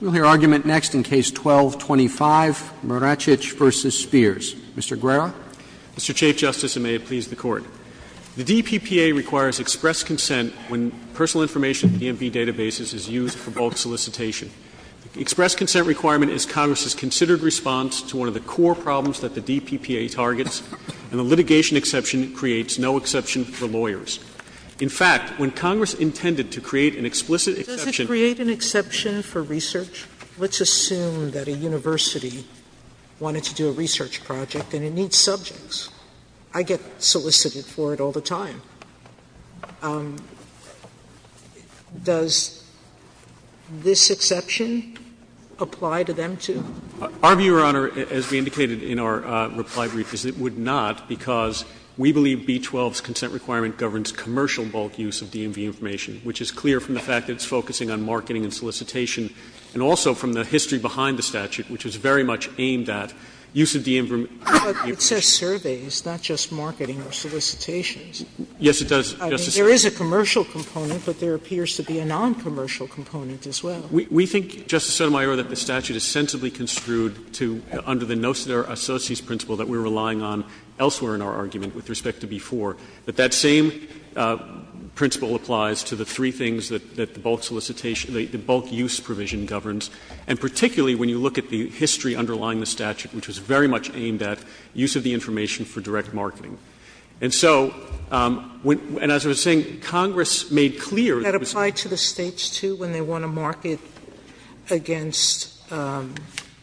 We'll hear argument next in Case 12-25, Maracich v. Spears. Mr. Guerra. Mr. Chief Justice, and may it please the Court. The DPPA requires express consent when personal information in DMV databases is used for bulk solicitation. The express consent requirement is Congress's considered response to one of the core problems that the DPPA targets, and the litigation exception creates no exception for lawyers. In fact, when Congress intended to create an explicit exception— Sotomayor, does it create an exception for research? Let's assume that a university wanted to do a research project and it needs subjects. I get solicited for it all the time. Does this exception apply to them, too? Our view, Your Honor, as we indicated in our reply brief, is it would not, because we believe B-12's consent requirement governs commercial bulk use of DMV information, which is clear from the fact that it's focusing on marketing and solicitation, and also from the history behind the statute, which is very much aimed at use of DMV information. But it says surveys, not just marketing or solicitations. Yes, it does, Justice Sotomayor. I mean, there is a commercial component, but there appears to be a noncommercial component as well. We think, Justice Sotomayor, that the statute is sensibly construed to, under the noceter associes principle that we're relying on elsewhere in our argument with respect to B-4, that that same principle applies to the three things that the bulk solicitation the bulk use provision governs, and particularly when you look at the history underlying the statute, which was very much aimed at use of the information for direct marketing. And so, and as I was saying, Congress made clear that it was. Sotomayor, that apply to the States, too, when they want to market against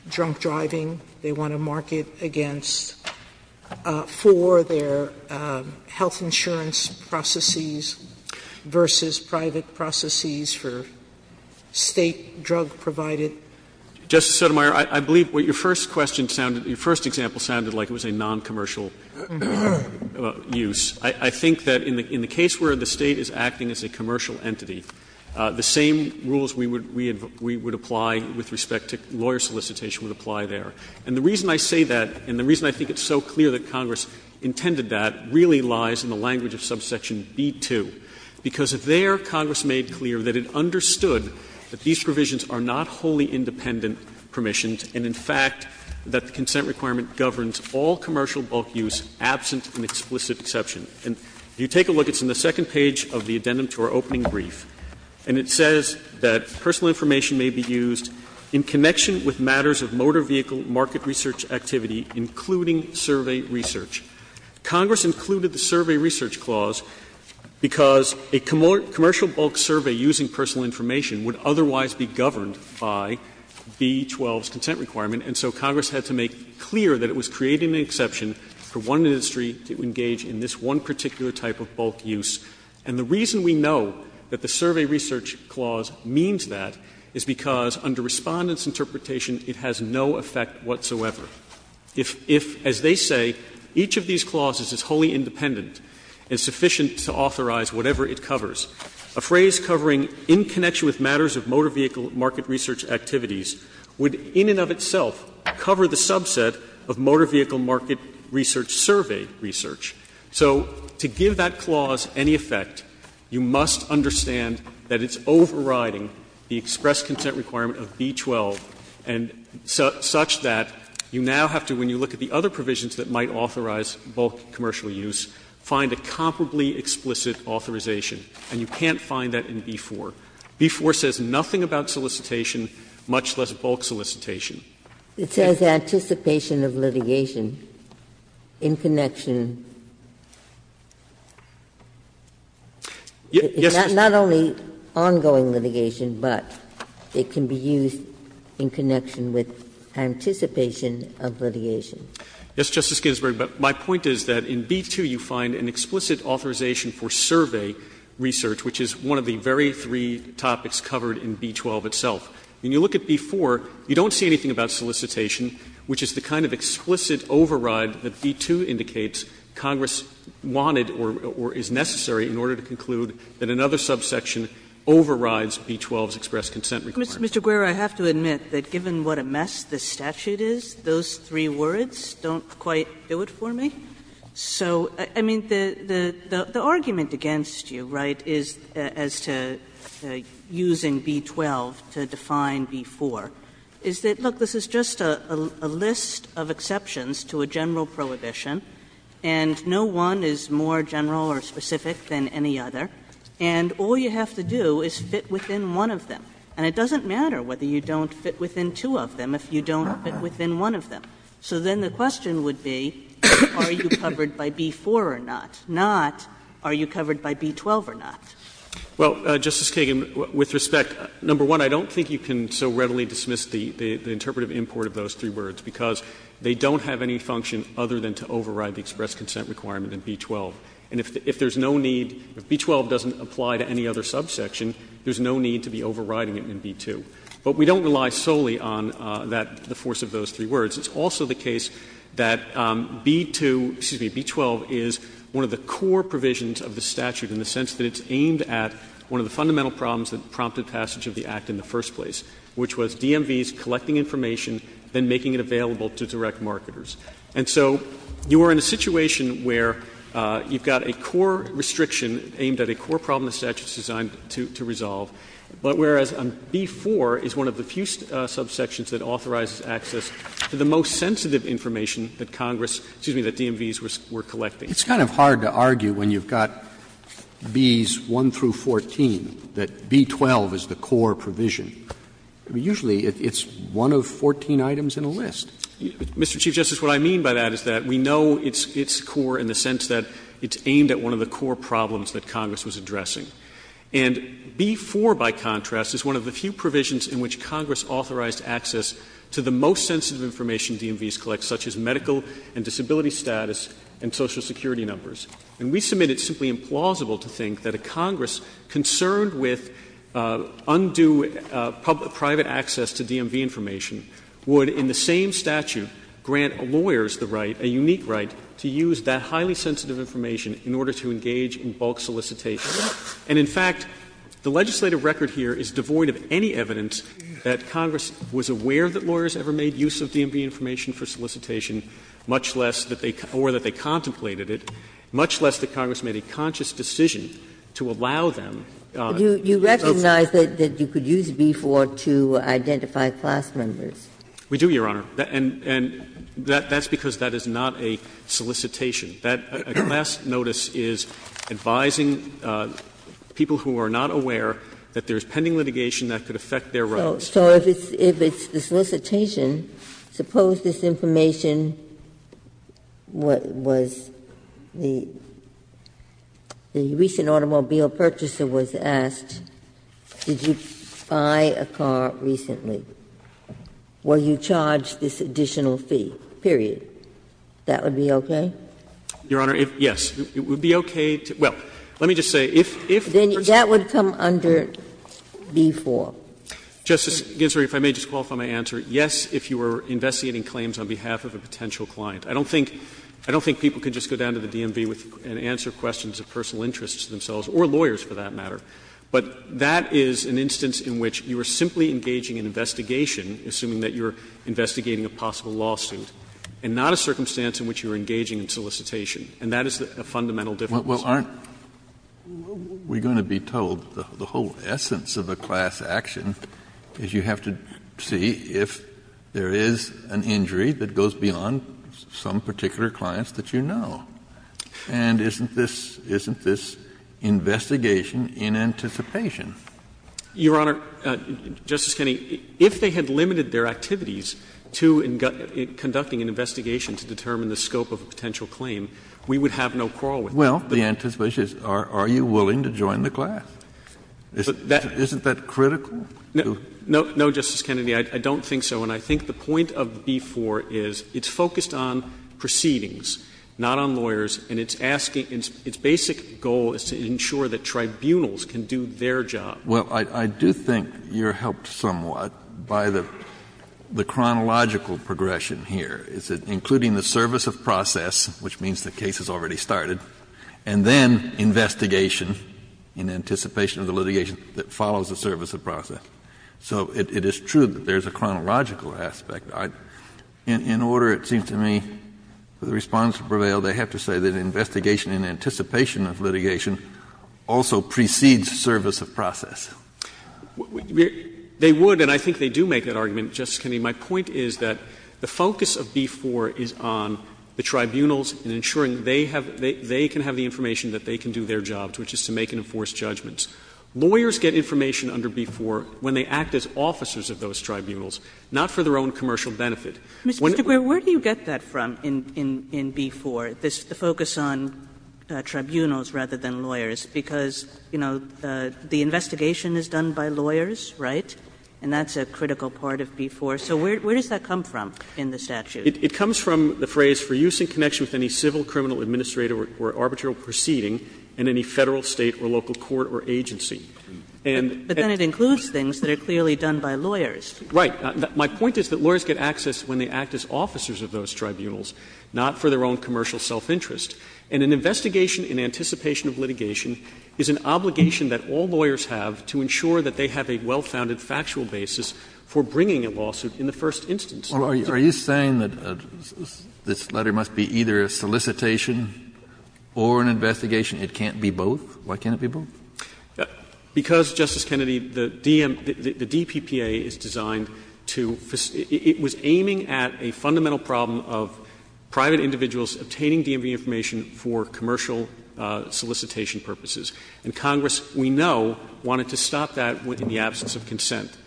drunk driving, they want to market against, for their health insurance processes versus private processes for State drug-provided. Justice Sotomayor, I believe what your first question sounded, your first example sounded like it was a noncommercial use. I think that in the case where the State is acting as a commercial entity, the same rules we would apply with respect to lawyer solicitation would apply there. And the reason I say that, and the reason I think it's so clear that Congress intended that, really lies in the language of subsection B-2. Because there, Congress made clear that it understood that these provisions are not wholly independent permissions and, in fact, that the consent requirement governs all commercial bulk use, absent an explicit exception. And if you take a look, it's in the second page of the addendum to our opening brief, and it says that personal information may be used in connection with matters of motor vehicle market research activity, including survey research. Congress included the survey research clause because a commercial bulk survey using personal information would otherwise be governed by B-12's consent requirement, and so Congress had to make clear that it was creating an exception for one industry to engage in this one particular type of bulk use. And the reason we know that the survey research clause means that is because under Respondent's interpretation, it has no effect whatsoever. If, as they say, each of these clauses is wholly independent and sufficient to authorize whatever it covers, a phrase covering in connection with matters of motor vehicle market research activities would in and of itself cover the subset of motor vehicle market research survey research. So to give that clause any effect, you must understand that it's overriding the express consent requirement of B-12, such that you now have to, when you look at the other provisions that might authorize bulk commercial use, find a comparably explicit authorization, and you can't find that in B-4. B-4 says nothing about solicitation, much less bulk solicitation. Ginsburg-Ginzburg It says anticipation of litigation in connection. It's not only ongoing litigation, but it can be used in connection with anticipation of litigation. Yes, Justice Ginsburg, but my point is that in B-2 you find an explicit authorization for survey research, which is one of the very three topics covered in B-12 itself. When you look at B-4, you don't see anything about solicitation, which is the kind of explicit override that B-2 indicates Congress wanted or is necessary in order to conclude that another subsection overrides B-12's express consent requirement. Kagan Mr. Guerra, I have to admit that given what a mess this statute is, those three words don't quite do it for me. So, I mean, the argument against you, right, as to using B-12 to define B-4, is that, look, this is just a list of exceptions to a general prohibition, and no one is more general or specific than any other, and all you have to do is fit within one of them. And it doesn't matter whether you don't fit within two of them if you don't fit within one of them. So then the question would be, are you covered by B-4 or not, not are you covered by B-12 or not. Guerra Well, Justice Kagan, with respect, number one, I don't think you can so readily dismiss the interpretive import of those three words, because they don't have any function other than to override the express consent requirement in B-12. And if there's no need, if B-12 doesn't apply to any other subsection, there's no need to be overriding it in B-2. But we don't rely solely on that, the force of those three words. It's also the case that B-2, excuse me, B-12 is one of the core provisions of the statute in the sense that it's aimed at one of the fundamental problems that prompted passage of the Act in the first place, which was DMV's collecting information, then making it available to direct marketers. And so you are in a situation where you've got a core restriction aimed at a core problem the statute is designed to resolve, but whereas B-4 is one of the few subsections that authorizes access to the most sensitive information that Congress, excuse me, that DMV's were collecting. Roberts. It's kind of hard to argue when you've got Bs 1 through 14 that B-12 is the core provision. Usually it's one of 14 items in a list. Mr. Chief Justice, what I mean by that is that we know it's core in the sense that it's aimed at one of the core problems that Congress was addressing. And B-4, by contrast, is one of the few provisions in which Congress authorized access to the most sensitive information DMV's collect, such as medical and disability status and social security numbers. And we submit it simply implausible to think that a Congress concerned with undue private access to DMV information would, in the same statute, grant lawyers the right, a unique right, to use that highly sensitive information in order to engage in bulk solicitation. And in fact, the legislative record here is devoid of any evidence that Congress was aware that lawyers ever made use of DMV information for solicitation, much less that they or that they contemplated it, much less that Congress made a conscious decision to allow them. Ginsburg. You recognize that you could use B-4 to identify class members. We do, Your Honor. And that's because that is not a solicitation. That last notice is advising people who are not aware that there is pending litigation that could affect their rights. So if it's the solicitation, suppose this information was the recent automobile purchaser was asked, did you buy a car recently? Will you charge this additional fee, period? That would be okay? Your Honor, yes. It would be okay to – well, let me just say, if the person Then that would come under B-4. Justice Ginsburg, if I may just qualify my answer. Yes, if you were investigating claims on behalf of a potential client. I don't think people could just go down to the DMV and answer questions of personal interests to themselves, or lawyers for that matter. But that is an instance in which you are simply engaging in investigation, assuming that you are investigating a possible lawsuit, and not a circumstance in which you are engaging in solicitation. And that is a fundamental difference. Kennedy, well, aren't we going to be told the whole essence of a class action is you have to see if there is an injury that goes beyond some particular clients that you know. And isn't this – isn't this investigation in anticipation? Your Honor, Justice Kennedy, if they had limited their activities to conducting an investigation to determine the scope of a potential claim, we would have no quarrel with them. Well, the anticipation is are you willing to join the class? Isn't that critical? No, Justice Kennedy, I don't think so. And I think the point of B-4 is it's focused on proceedings, not on lawyers, and it's asking – its basic goal is to ensure that tribunals can do their job. Well, I do think you are helped somewhat by the chronological progression here. Is it including the service of process, which means the case has already started, and then investigation in anticipation of the litigation that follows the service of process. So it is true that there is a chronological aspect. In order, it seems to me, for the Respondents to prevail, they have to say that investigation in anticipation of litigation also precedes service of process. They would, and I think they do make that argument, Justice Kennedy. My point is that the focus of B-4 is on the tribunals and ensuring they have – they can have the information that they can do their jobs, which is to make and enforce judgments. Lawyers get information under B-4 when they act as officers of those tribunals, not for their own commercial benefit. When they act as officers of those tribunals, not for their own commercial benefit. Kagan, where do you get that from in B-4, the focus on tribunals rather than lawyers? Because, you know, the investigation is done by lawyers, right? And that's a critical part of B-4. So where does that come from in the statute? It comes from the phrase, For use in connection with any civil, criminal, administrative, or arbitrary proceeding in any Federal, State, or local court or agency. And then it includes things that are clearly done by lawyers. Right. My point is that lawyers get access when they act as officers of those tribunals, not for their own commercial self-interest. And an investigation in anticipation of litigation is an obligation that all lawyers have to ensure that they have a well-founded factual basis for bringing a lawsuit in the first instance. Are you saying that this letter must be either a solicitation or an investigation? It can't be both? Why can't it be both? Because, Justice Kennedy, the DPPA is designed to ‑‑ it was aiming at a fundamental problem of private individuals obtaining DMV information for commercial solicitation purposes. And Congress, we know, wanted to stop that in the absence of consent.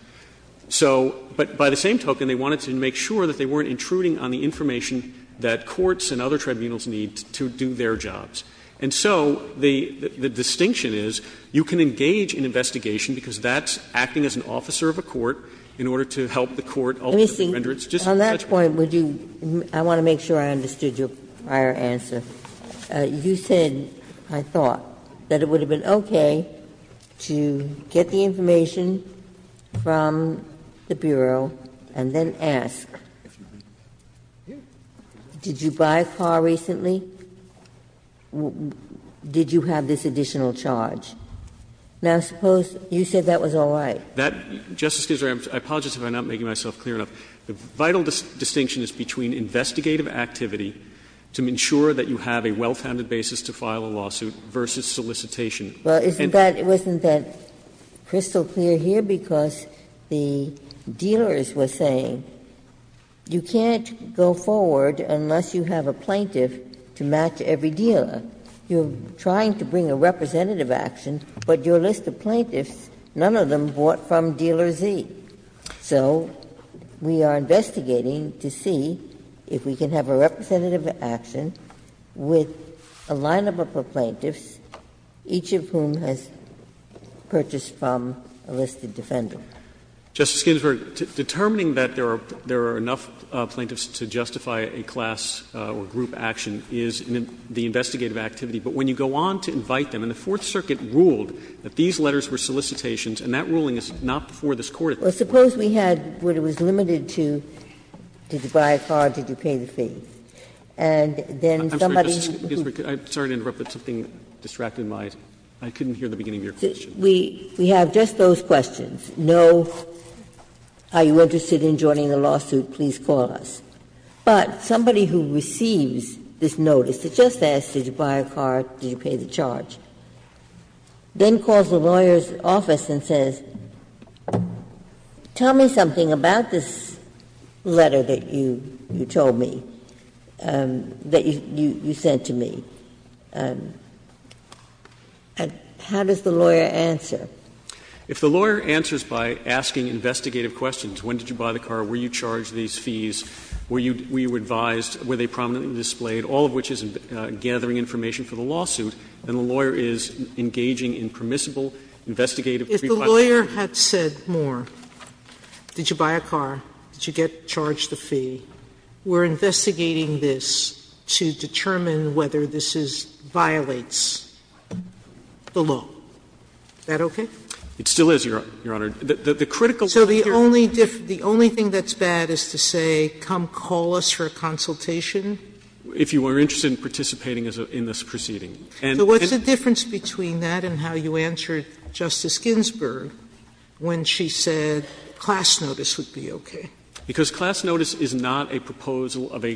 So ‑‑ but by the same token, they wanted to make sure that they weren't intruding on the information that courts and other tribunals need to do their jobs. And so the distinction is you can engage in investigation because that's acting as an officer of a court in order to help the court ultimately render its justice in such a way. Ginsburg. On that point, would you ‑‑ I want to make sure I understood your prior answer. You said, I thought, that it would have been okay to get the information from the Bureau and then ask, did you buy a car recently? Did you have this additional charge? Now, suppose you said that was all right. Justice Ginsburg, I apologize if I'm not making myself clear enough. The vital distinction is between investigative activity to ensure that you have a well‑founded basis to file a lawsuit versus solicitation. And ‑‑ Ginsburg. Well, isn't that crystal clear here? Because the dealers were saying, you can't go forward unless you have a plaintiff to match every dealer. You're trying to bring a representative action, but your list of plaintiffs, none of them bought from Dealer Z. So we are investigating to see if we can have a representative action with a lineup of plaintiffs, each of whom has purchased from a listed defender. Justice Ginsburg, determining that there are enough plaintiffs to justify a class or group action is the investigative activity. But when you go on to invite them, and the Fourth Circuit ruled that these letters were solicitations, and that ruling is not before this Court at this point. Well, suppose we had what was limited to did you buy a car, did you pay the fee? And then somebody who ‑‑ I'm sorry, Justice Ginsburg. I'm sorry to interrupt, but something distracted my ‑‑ I couldn't hear the beginning of your question. We have just those questions. No, are you interested in joining the lawsuit, please call us. But somebody who receives this notice that just asks, did you buy a car, did you pay the fee, did you pay the charge, then calls the lawyer's office and says, tell me something about this letter that you told me, that you sent to me, and how does the lawyer answer? If the lawyer answers by asking investigative questions, when did you buy the car, were you charged these fees, were you advised, were they prominently displayed, all of which is gathering information for the lawsuit, then the lawyer is engaging in permissible investigative ‑‑ If the lawyer had said more, did you buy a car, did you get charged the fee, we're investigating this to determine whether this violates the law. Is that okay? It still is, Your Honor. The critical thing here is ‑‑ So the only thing that's bad is to say, come call us for a consultation? If you were interested in participating in this proceeding. And ‑‑ So what's the difference between that and how you answered Justice Ginsburg when she said class notice would be okay? Because class notice is not a proposal of a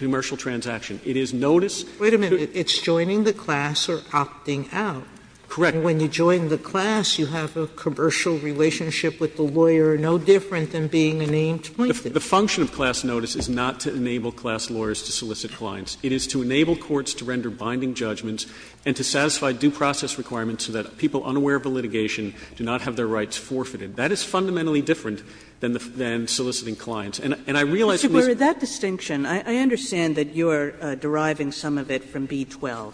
commercial transaction. It is notice ‑‑ Wait a minute. It's joining the class or opting out. Correct. And when you join the class, you have a commercial relationship with the lawyer no different than being a named plaintiff. The function of class notice is not to enable class lawyers to solicit clients. It is to enable courts to render binding judgments and to satisfy due process requirements so that people unaware of a litigation do not have their rights forfeited. That is fundamentally different than soliciting clients. And I realize ‑‑ Mr. Burr, that distinction, I understand that you are deriving some of it from B-12.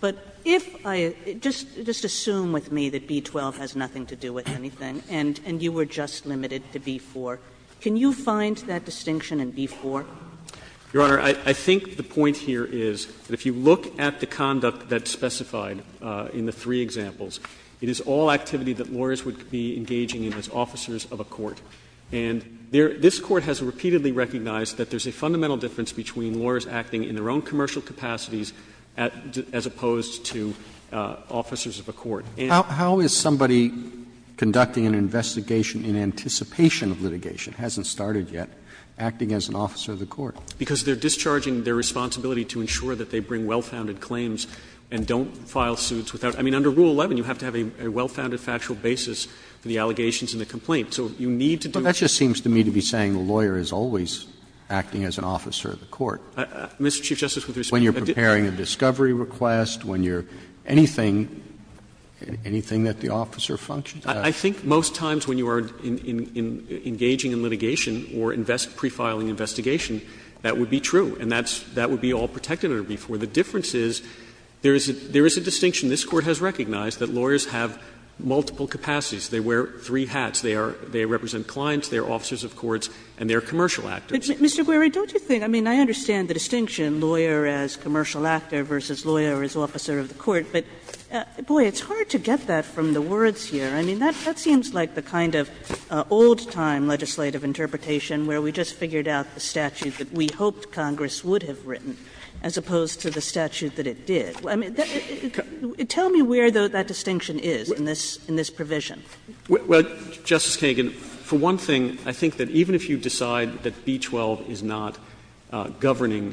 But if I ‑‑ just assume with me that B-12 has nothing to do with anything and you were just limited to B-4. Can you find that distinction in B-4? Your Honor, I think the point here is that if you look at the conduct that's specified in the three examples, it is all activity that lawyers would be engaging in as officers of a court. And this Court has repeatedly recognized that there's a fundamental difference between lawyers acting in their own commercial capacities as opposed to officers of a court. And ‑‑ How is somebody conducting an investigation in anticipation of litigation, hasn't started yet, acting as an officer of the court? Because they are discharging their responsibility to ensure that they bring wellfounded claims and don't file suits without ‑‑ I mean, under Rule 11, you have to have a wellfounded factual basis for the allegations in the complaint. So you need to do ‑‑ But that just seems to me to be saying the lawyer is always acting as an officer of the court. Mr. Chief Justice, with respect ‑‑ When you're preparing a discovery request, when you're ‑‑ anything that the officer functions as. I think most times when you are engaging in litigation or pre-filing an investigation, that would be true, and that would be all protected under B-4. The difference is there is a distinction. This Court has recognized that lawyers have multiple capacities. They wear three hats. They are ‑‑ they represent clients, they are officers of courts, and they are commercial actors. Kagan. Mr. Gueri, don't you think, I mean, I understand the distinction, lawyer as commercial actor versus lawyer as officer of the court, but, boy, it's hard to get that from the words here. I mean, that seems like the kind of old‑time legislative interpretation where we just figured out the statute that we hoped Congress would have written as opposed to the statute that it did. I mean, tell me where, though, that distinction is in this provision. Well, Justice Kagan, for one thing, I think that even if you decide that B-12 is not governing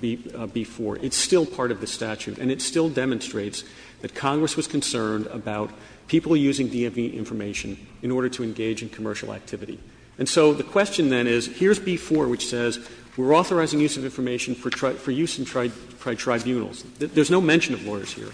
B-4, it's still part of the statute, and it still demonstrates that Congress was concerned about people using DMV information in order to engage in commercial activity. And so the question, then, is here's B-4, which says we're authorizing use of information for use in tribunals. There is no mention of lawyers here.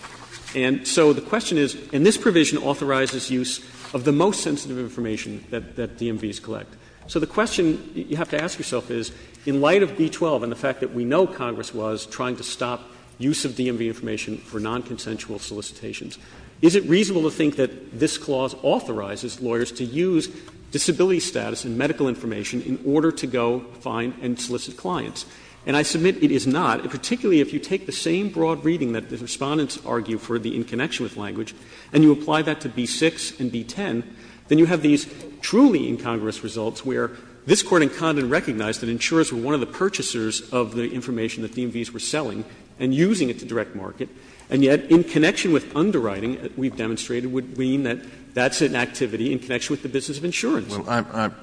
And so the question is, and this provision authorizes use of the most sensitive information that DMVs collect. So the question you have to ask yourself is, in light of B-12 and the fact that we know Congress was trying to stop use of DMV information for nonconsensual solicitations, is it reasonable to think that this clause authorizes lawyers to use disability status and medical information in order to go find and solicit clients? And I submit it is not, particularly if you take the same broad reading that the Court argued for the in connection with language, and you apply that to B-6 and B-10, then you have these truly incongruous results where this Court in Condon recognized that insurers were one of the purchasers of the information that DMVs were selling and using it to direct market, and yet in connection with underwriting, we've demonstrated would mean that that's an activity in connection with the business of insurance. Kennedy,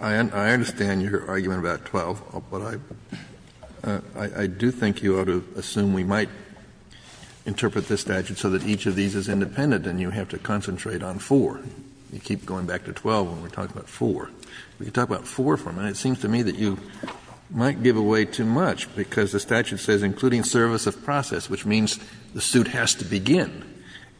I understand your argument about 12, but I do think you ought to assume we might interpret this statute so that each of these is independent and you have to concentrate on 4. You keep going back to 12 when we're talking about 4. We can talk about 4 for a minute. It seems to me that you might give away too much, because the statute says including service of process, which means the suit has to begin,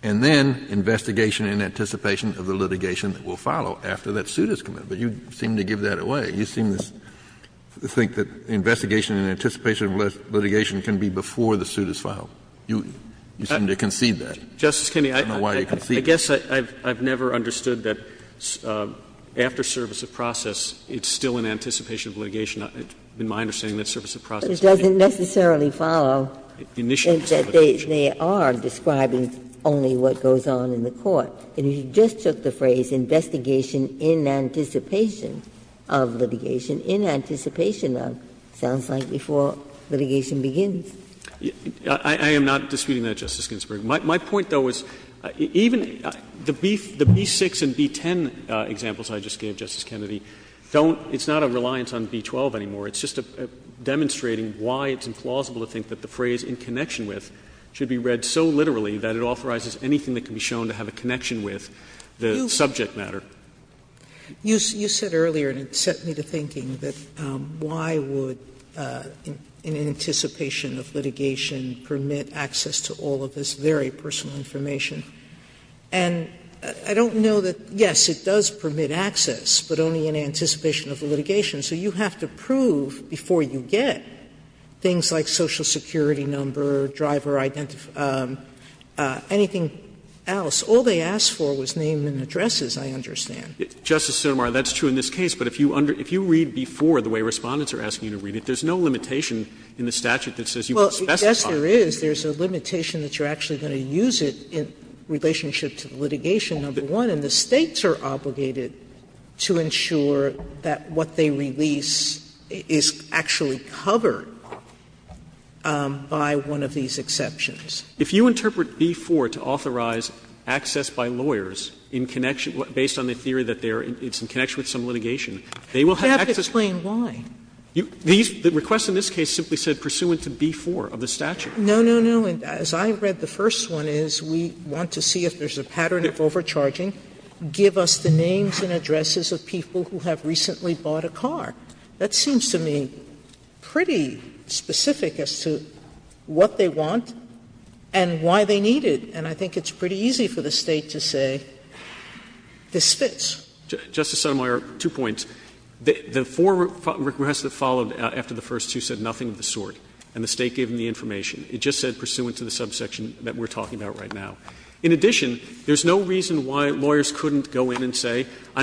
and then investigation and anticipation of the litigation that will follow after that suit is committed. But you seem to give that away. You seem to think that investigation and anticipation of litigation can be before the suit is filed. You seem to concede that. I don't know why you concede that. I guess I've never understood that after service of process, it's still in anticipation of litigation. In my understanding, that's service of process. It doesn't necessarily follow that they are describing only what goes on in the court. And you just took the phrase, investigation in anticipation of litigation, in anticipation of, sounds like before litigation begins. I am not disputing that, Justice Ginsburg. My point, though, is even the B6 and B10 examples I just gave, Justice Kennedy, don't — it's not a reliance on B12 anymore. It's just demonstrating why it's implausible to think that the phrase, in connection with, should be read so literally that it authorizes anything that can be shown to have a connection with the subject matter. Sotomayor, you said earlier, and it set me to thinking, that why would an anticipation of litigation permit access to all of this very personal information? And I don't know that, yes, it does permit access, but only in anticipation of the litigation. So you have to prove before you get things like social security number, driver identification, anything else. All they asked for was names and addresses, I understand. Justice Sotomayor, that's true in this case, but if you read B4 the way Respondents are asking you to read it, there's no limitation in the statute that says you can specify. Well, I guess there is. There's a limitation that you're actually going to use it in relationship to litigation, number one, and the States are obligated to ensure that what they release is actually covered by one of these exceptions. If you interpret B4 to authorize access by lawyers in connection, based on the theory that they are in connection with some litigation, they will have access. You have to explain why. The request in this case simply said pursuant to B4 of the statute. No, no, no. As I read the first one, is we want to see if there's a pattern of overcharging, give us the names and addresses of people who have recently bought a car. That seems to me pretty specific as to what they want and why they need it. And I think it's pretty easy for the State to say this fits. Justice Sotomayor, two points. The four requests that followed after the first two said nothing of the sort, and the State gave them the information. It just said pursuant to the subsection that we're talking about right now. In addition, there's no reason why lawyers couldn't go in and say, I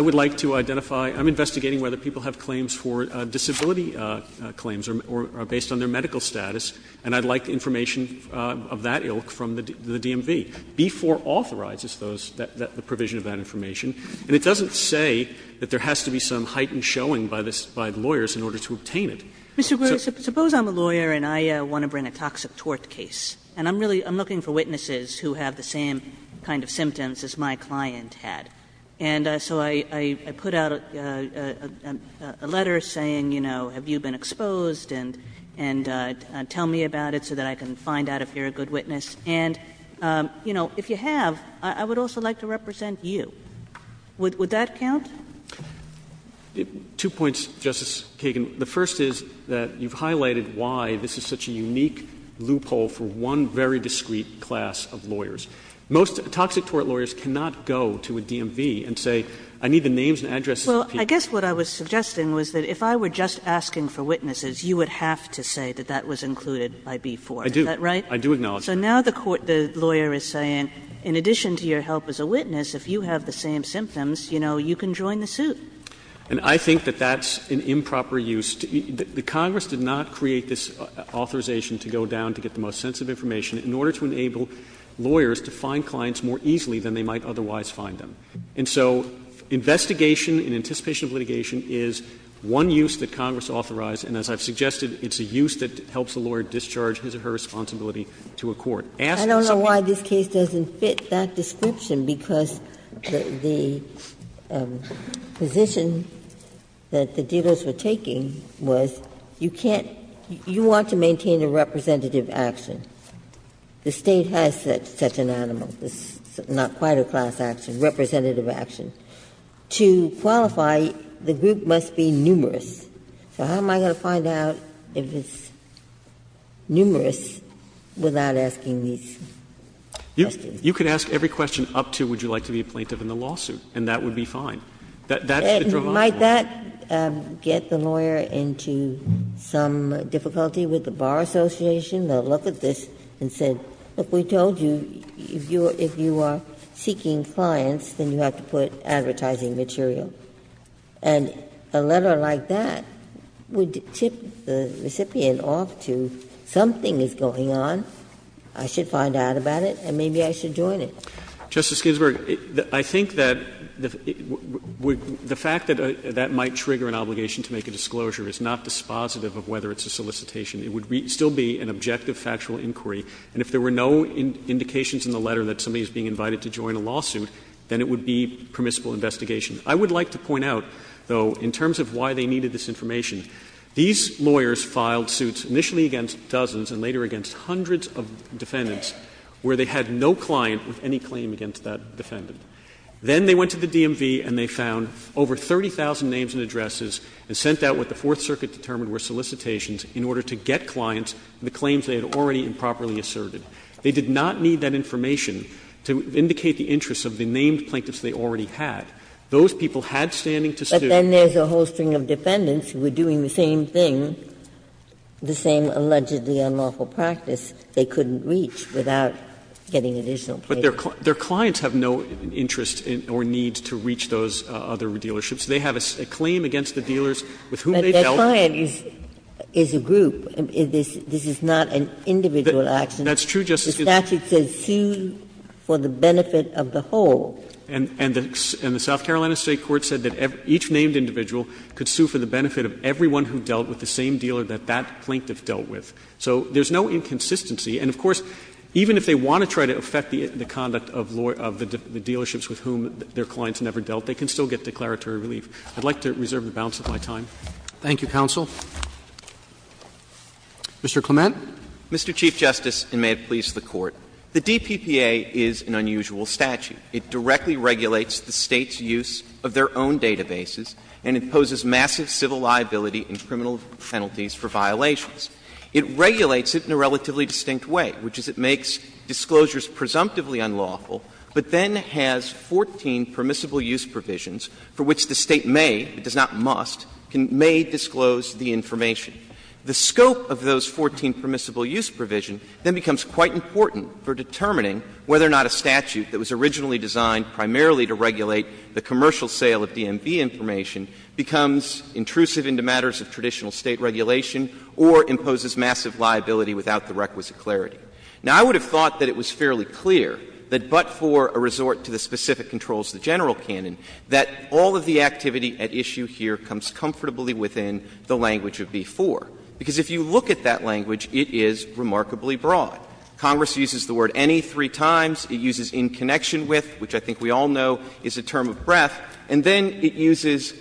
would like to identify, I'm investigating whether people have claims for disability claims or are based on their medical status, and I'd like information of that ilk from the DMV. B4 authorizes those, the provision of that information, and it doesn't say that there has to be some heightened showing by the lawyers in order to obtain it. Kagan, suppose I'm a lawyer and I want to bring a toxic tort case, and I'm really looking for witnesses who have the same kind of symptoms as my client had. And so I put out a letter saying, you know, have you been exposed, and tell me about it so that I can find out if you're a good witness. And, you know, if you have, I would also like to represent you. Would that count? Two points, Justice Kagan. The first is that you've highlighted why this is such a unique loophole for one very discreet class of lawyers. Most toxic tort lawyers cannot go to a DMV and say, I need the names and addresses of people. Well, I guess what I was suggesting was that if I were just asking for witnesses, you would have to say that that was included by B4. I do. Is that right? I do acknowledge that. So now the court, the lawyer is saying, in addition to your help as a witness, if you have the same symptoms, you know, you can join the suit. And I think that that's an improper use. The Congress did not create this authorization to go down to get the most sensitive information in order to enable lawyers to find clients more easily than they might otherwise find them. And so investigation and anticipation of litigation is one use that Congress authorized, and as I've suggested, it's a use that helps a lawyer discharge his or her responsibility to a court. Asked for something else. Ginsburg. I don't know why this case doesn't fit that description, because the position that the dealers were taking was you can't — you want to maintain a representative action. The State has such an animal. It's not quite a class action, representative action. To qualify, the group must be numerous. So how am I going to find out if it's numerous without asking these questions? You could ask every question up to would you like to be a plaintiff in the lawsuit, and that would be fine. That's the dravage law. But might that get the lawyer into some difficulty with the Bar Association? They'll look at this and say, look, we told you if you are seeking clients, then you have to put advertising material. And a letter like that would tip the recipient off to something is going on, I should find out about it, and maybe I should join it. Justice Ginsburg, I think that the fact that that might trigger an obligation to make a disclosure is not dispositive of whether it's a solicitation. It would still be an objective factual inquiry. And if there were no indications in the letter that somebody is being invited to join a lawsuit, then it would be permissible investigation. I would like to point out, though, in terms of why they needed this information, these lawyers filed suits initially against dozens and later against hundreds of defendants where they had no client with any claim against that defendant. Then they went to the DMV and they found over 30,000 names and addresses and sent out what the Fourth Circuit determined were solicitations in order to get clients the claims they had already improperly asserted. They did not need that information to indicate the interests of the named plaintiffs Those people had standing to sue. Ginsburg-Gilmour-Ross But then there's a whole string of defendants who were doing the same thing, the same allegedly unlawful practice, they couldn't reach without getting additional plaintiffs. Roberts-Gilmour-Ross But their clients have no interest or need to reach those other dealerships. They have a claim against the dealers with whom they dealt. Ginsburg-Gilmour-Ross But their client is a group. This is not an individual action. Roberts-Gilmour-Ross That's true, Justice Ginsburg. Ginsburg-Gilmour-Ross The statute says, sue for the benefit of the whole. Roberts-Gilmour-Ross And the South Carolina State court said that each named individual could sue for the benefit of everyone who dealt with the same dealer that that plaintiff dealt with. So there's no inconsistency. And, of course, even if they want to try to affect the conduct of the dealerships with whom their clients never dealt, they can still get declaratory relief. I'd like to reserve the balance of my time. Roberts-Gilmour-Ross Thank you, counsel. Mr. Clement. Clement Mr. Chief Justice, and may it please the Court. The DPPA is an unusual statute. It directly regulates the State's use of their own databases and imposes massive civil liability and criminal penalties for violations. It regulates it in a relatively distinct way, which is it makes disclosures presumptively unlawful, but then has 14 permissible use provisions for which the State may, it does not must, may disclose the information. The scope of those 14 permissible use provisions then becomes quite important for determining whether or not a statute that was originally designed primarily to regulate the commercial sale of DMV information becomes intrusive into matters of traditional State regulation or imposes massive liability without the requisite clarity. Now, I would have thought that it was fairly clear that but for a resort to the specific controls of the general canon, that all of the activity at issue here comes comfortably within the language of B-4. Because if you look at that language, it is remarkably broad. Congress uses the word any three times. It uses in connection with, which I think we all know is a term of breadth. And then it uses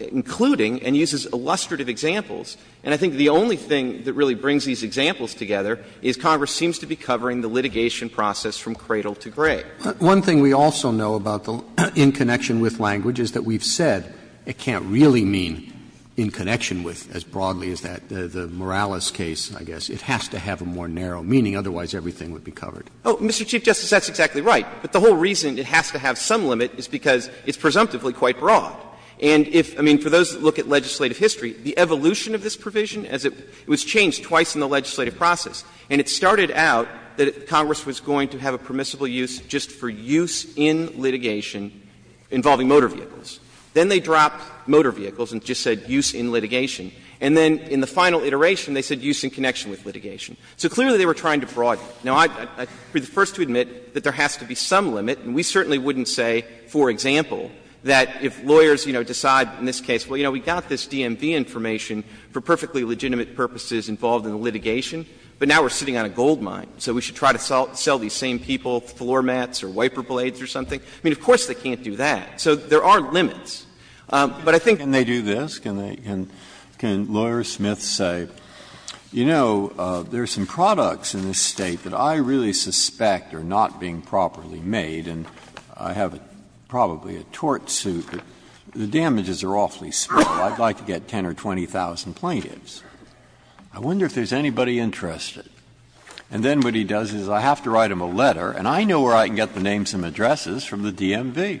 including and uses illustrative examples. And I think the only thing that really brings these examples together is Congress seems to be covering the litigation process from cradle to grave. One thing we also know about the in connection with language is that we've said it can't really mean in connection with as broadly as that, the Morales case, I guess. It has to have a more narrow meaning, otherwise everything would be covered. Oh, Mr. Chief Justice, that's exactly right. But the whole reason it has to have some limit is because it's presumptively quite broad. And if, I mean, for those that look at legislative history, the evolution of this provision as it was changed twice in the legislative process, and it started out that Congress was going to have a permissible use just for use in litigation involving motor vehicles. Then they dropped motor vehicles and just said use in litigation. And then in the final iteration, they said use in connection with litigation. So clearly they were trying to broaden it. Now, I would be the first to admit that there has to be some limit. And we certainly wouldn't say, for example, that if lawyers, you know, decide in this case, well, you know, we got this DMV information for perfectly legitimate purposes involved in the litigation, but now we're sitting on a goldmine, so we should try to sell these same people floor mats or wiper blades or something. I mean, of course they can't do that. So there are limits. But I think they do this. Can lawyer Smith say, you know, there are some products in this State that I really suspect are not being properly made, and I have probably a tort suit, but the damages are awfully small. I would like to get 10,000 or 20,000 plaintiffs. I wonder if there is anybody interested. And then what he does is I have to write him a letter, and I know where I can get the names and addresses from the DMV.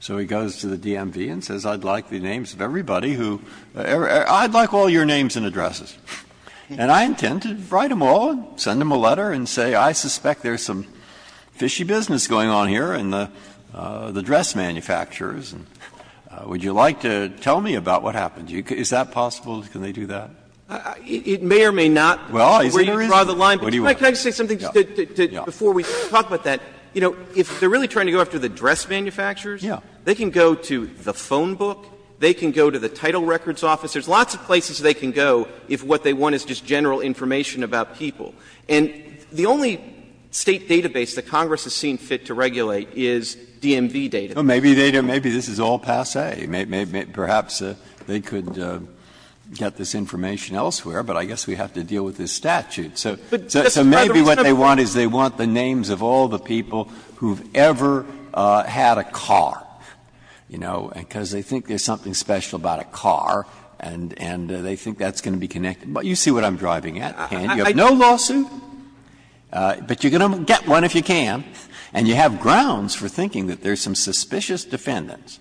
So he goes to the DMV and says, I'd like the names of everybody who — I'd like all your names and addresses. And I intend to write them all, send them a letter, and say, I suspect there is some fishy business going on here in the dress manufacturers, and would you like to tell me about what happened? Is that possible? Can they do that? Clements, it may or may not. Breyer, is there a reason? Clements, well, I think there is. What do you want? Sotomayor, can I just say something before we talk about that? You know, if they are really trying to go after the dress manufacturers, they can go to the phone book, they can go to the title records office. There are lots of places they can go if what they want is just general information about people. And the only State database that Congress has seen fit to regulate is DMV data. Breyer, maybe this is all passé. Perhaps they could get this information elsewhere, but I guess we have to deal with this statute. So maybe what they want is they want the names of all the people who have ever had a car, you know, because they think there is something special about a car, and they think that's going to be connected. But you see what I'm driving at, and you have no lawsuit, but you're going to get one if you can, and you have grounds for thinking that there are some suspicious defendants,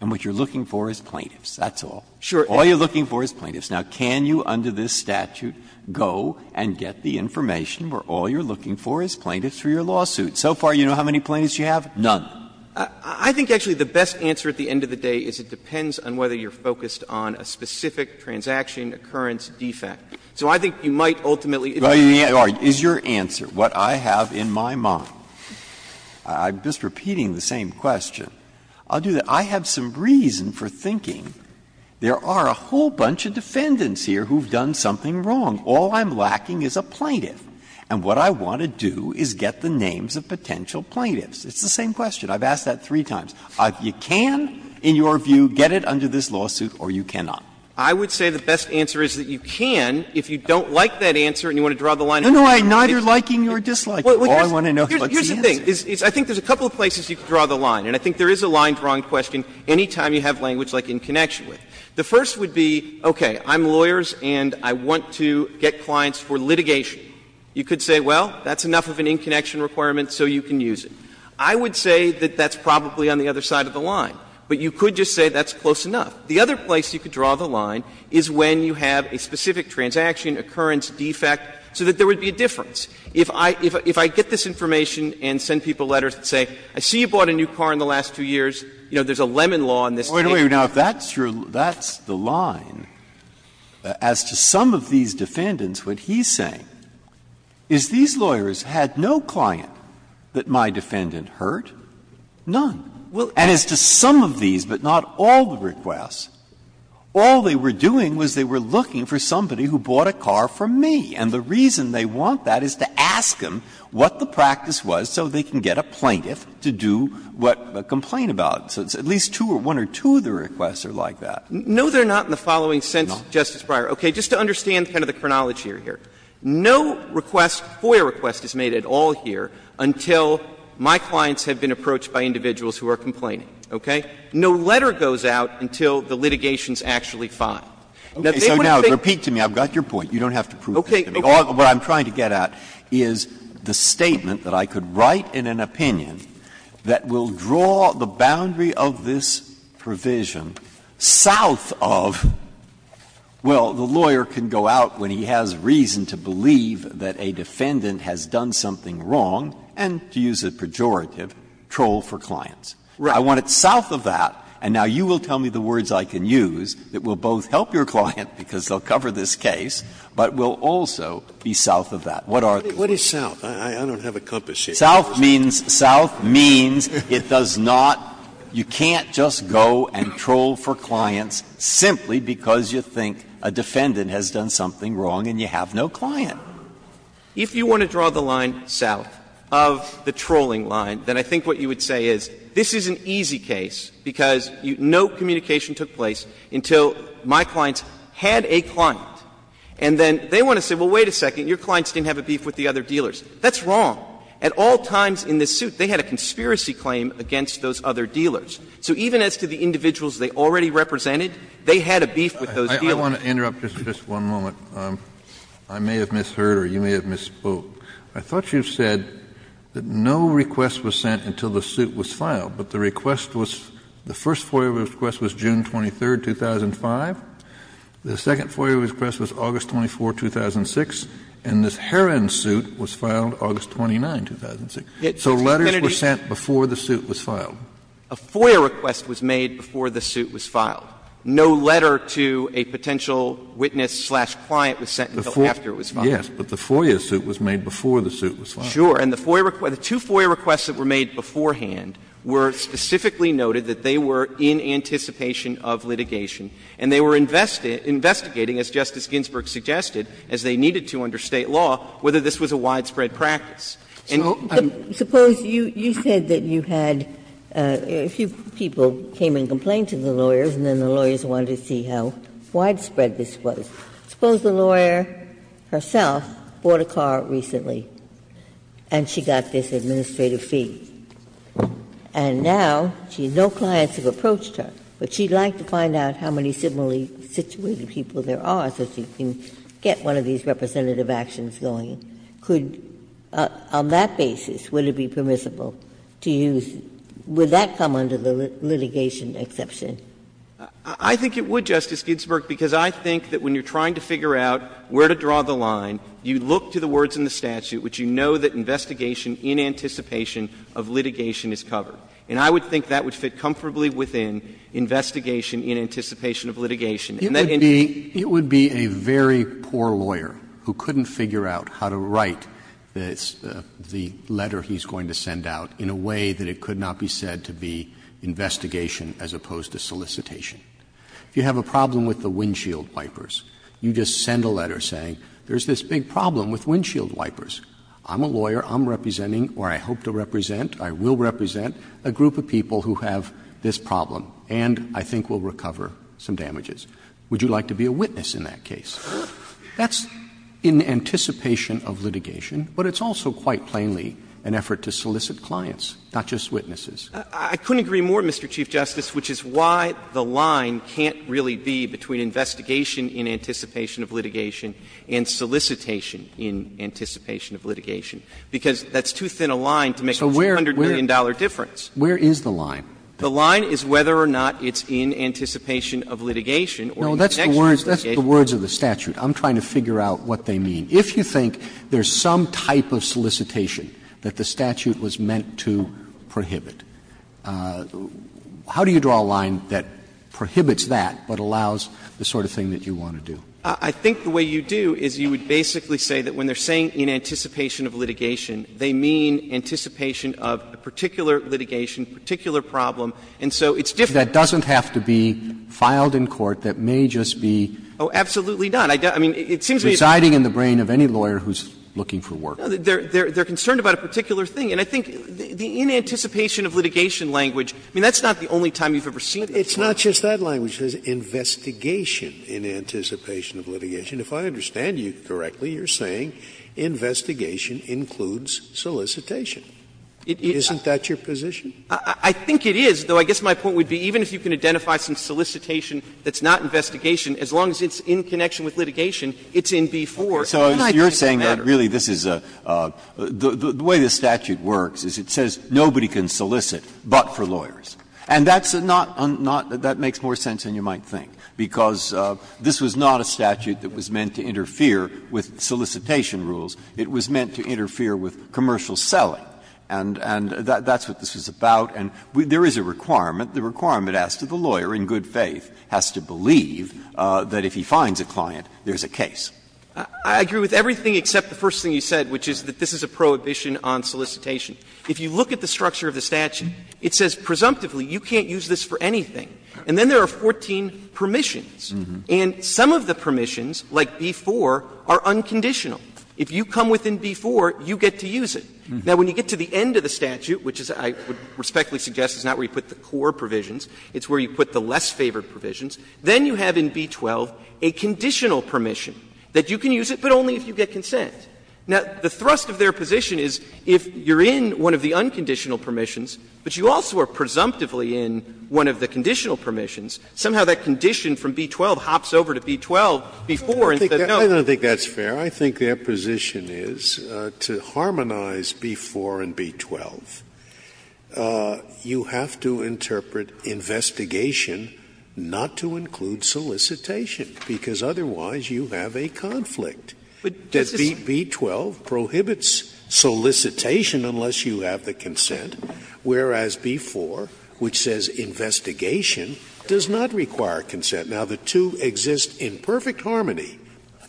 and what you are looking for is plaintiffs, that's all. All you are looking for is plaintiffs. Now, can you under this statute go and get the information where all you are looking for is plaintiffs for your lawsuit? So far, you know how many plaintiffs you have? None. Clements, I think actually the best answer at the end of the day is it depends on whether you are focused on a specific transaction occurrence defect. So I think you might ultimately Breyer, is your answer, what I have in my mind, I'm just repeating the same question. I'll do that. I have some reason for thinking there are a whole bunch of defendants here who have done something wrong. All I'm lacking is a plaintiff, and what I want to do is get the names of potential plaintiffs. It's the same question. I've asked that three times. You can, in your view, get it under this lawsuit, or you cannot. Clements, I would say the best answer is that you can if you don't like that answer and you want to draw the line. Breyer, No, no, neither liking nor disliking. All I want to know is what's the answer. Clements, Here's the thing. I think there's a couple of places you can draw the line, and I think there is a line drawing question any time you have language like in connection with. The first would be, okay, I'm lawyers and I want to get clients for litigation. You could say, well, that's enough of an in connection requirement so you can use it. I would say that that's probably on the other side of the line, but you could just say that's close enough. The other place you could draw the line is when you have a specific transaction occurrence defect so that there would be a difference. If I get this information and send people letters that say, I see you bought a new car in the last two years, you know, there's a lemon law on this thing. Breyer, Now, if that's the line, as to some of these defendants, what he's saying is these lawyers had no client that my defendant hurt, none. And as to some of these, but not all the requests, all they were doing was they were looking for somebody who bought a car from me. And the reason they want that is to ask them what the practice was so they can get a plaintiff to do what, complain about. So at least two or one or two of the requests are like that. No, they're not in the following sense, Justice Breyer. Okay. Just to understand kind of the chronology here. No request, FOIA request is made at all here until my clients have been approached by individuals who are complaining, okay? No letter goes out until the litigation is actually filed. Now, they would think that they would think that they would think that they would What I'm trying to get at is the statement that I could write in an opinion that will draw the boundary of this provision south of, well, the lawyer can go out when he has reason to believe that a defendant has done something wrong and, to use a pejorative, troll for clients. I want it south of that. And now you will tell me the words I can use that will both help your client, because they'll cover this case, but will also be south of that. What are the words? What is south? I don't have a compass here. South means — south means it does not — you can't just go and troll for clients simply because you think a defendant has done something wrong and you have no client. If you want to draw the line south of the trolling line, then I think what you would say is, this is an easy case because no communication took place until my clients had a client, and then they want to say, well, wait a second, your clients didn't have a beef with the other dealers. That's wrong. At all times in this suit, they had a conspiracy claim against those other dealers. So even as to the individuals they already represented, they had a beef with those dealers. Kennedy I want to interrupt just for one moment. I may have misheard or you may have misspoke. I thought you said that no request was sent until the suit was filed, but the request was — the first FOIA request was June 23, 2005. The second FOIA request was August 24, 2006, and this Heron suit was filed August 29, 2006. So letters were sent before the suit was filed. A FOIA request was made before the suit was filed. No letter to a potential witness-slash-client was sent until after it was filed. Yes, but the FOIA suit was made before the suit was filed. Clement Sure. And the FOIA — the two FOIA requests that were made beforehand were specifically noted that they were in anticipation of litigation, and they were investigating, as Justice Ginsburg suggested, as they needed to under State law, whether this was a widespread practice. And I'm — Ginsburg Suppose you said that you had a few people came and complained to the lawyers and then the lawyers wanted to see how widespread this was. Suppose the lawyer herself bought a car recently and she got this administrative fee, and now she has no clients who have approached her, but she'd like to find out how many similarly situated people there are so she can get one of these representative actions going. Could — on that basis, would it be permissible to use — would that come under the litigation exception? Clement I think it would, Justice Ginsburg, because I think that when you're trying to figure out where to draw the line, you look to the words in the statute, which you know that investigation in anticipation of litigation is covered. And I would think that would fit comfortably within investigation in anticipation of litigation. And that in— Roberts It would be — it would be a very poor lawyer who couldn't figure out how to write the letter he's going to send out in a way that it could not be said to be investigation as opposed to solicitation. If you have a problem with the windshield wipers, you just send a letter saying there's this big problem with windshield wipers. I'm a lawyer. I'm representing, or I hope to represent, I will represent a group of people who have this problem and I think will recover some damages. Would you like to be a witness in that case? That's in anticipation of litigation, but it's also quite plainly an effort to solicit clients, not just witnesses. Clement I couldn't agree more, Mr. Chief Justice, which is why the line can't really be between investigation in anticipation of litigation and solicitation in anticipation of litigation, because that's too thin a line to make a $200 million difference. Roberts So where is the line? Clement The line is whether or not it's in anticipation of litigation or in connection with litigation. Roberts No, that's the words of the statute. I'm trying to figure out what they mean. If you think there's some type of solicitation that the statute was meant to prohibit, how do you draw a line that prohibits that but allows the sort of thing that you want to do? Clement I think the way you do is you would basically say that when they're saying in anticipation of litigation, they mean anticipation of a particular litigation, particular problem, and so it's different. Roberts That doesn't have to be filed in court. That may just be residing in the brain of a client. It doesn't have to be in the brain of any lawyer who's looking for work. Clement No, they're concerned about a particular thing, and I think the in anticipation of litigation language, I mean, that's not the only time you've ever seen that. Scalia It's not just that language that says investigation in anticipation of litigation. If I understand you correctly, you're saying investigation includes solicitation. Isn't that your position? Clement I think it is, though I guess my point would be even if you can identify some solicitation that's not investigation, as long as it's in connection with litigation, it's in B-4. Breyer So you're saying that really this is a the way the statute works is it says nobody can solicit but for lawyers, and that's not that makes more sense than you might think, because this was not a statute that was meant to interfere with solicitation rules. It was meant to interfere with commercial selling, and that's what this was about. And there is a requirement. The requirement as to the lawyer in good faith has to believe that if he finds a client, there's a case. I agree with everything except the first thing you said, which is that this is a prohibition on solicitation. If you look at the structure of the statute, it says presumptively you can't use this for anything. And then there are 14 permissions. And some of the permissions, like B-4, are unconditional. If you come within B-4, you get to use it. Now, when you get to the end of the statute, which I respectfully suggest is not where you put the core provisions, it's where you put the less favored provisions, then you have in B-12 a conditional permission that you can use it, but only if you get consent. Now, the thrust of their position is if you're in one of the unconditional permissions, but you also are presumptively in one of the conditional permissions, somehow that condition from B-12 hops over to B-12, B-4, and says no. Scalia I don't think that's fair. I think their position is to harmonize B-4 and B-12, you have to interpret investigation not to include solicitation, because otherwise you have a conflict. That B-12 prohibits solicitation unless you have the consent, whereas B-4, which says investigation, does not require consent. Now, the two exist in perfect harmony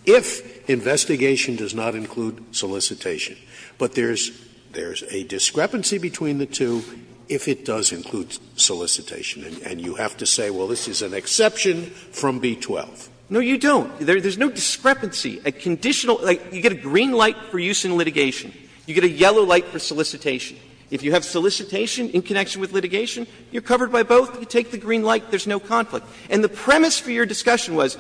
if investigation does not include solicitation. But there's a discrepancy between the two if it does include solicitation, and you have to say, well, this is an exception from B-12. Clement No, you don't. There's no discrepancy. A conditional like, you get a green light for use in litigation, you get a yellow light for solicitation. If you have solicitation in connection with litigation, you're covered by both. You take the green light, there's no conflict. And the premise for your discussion was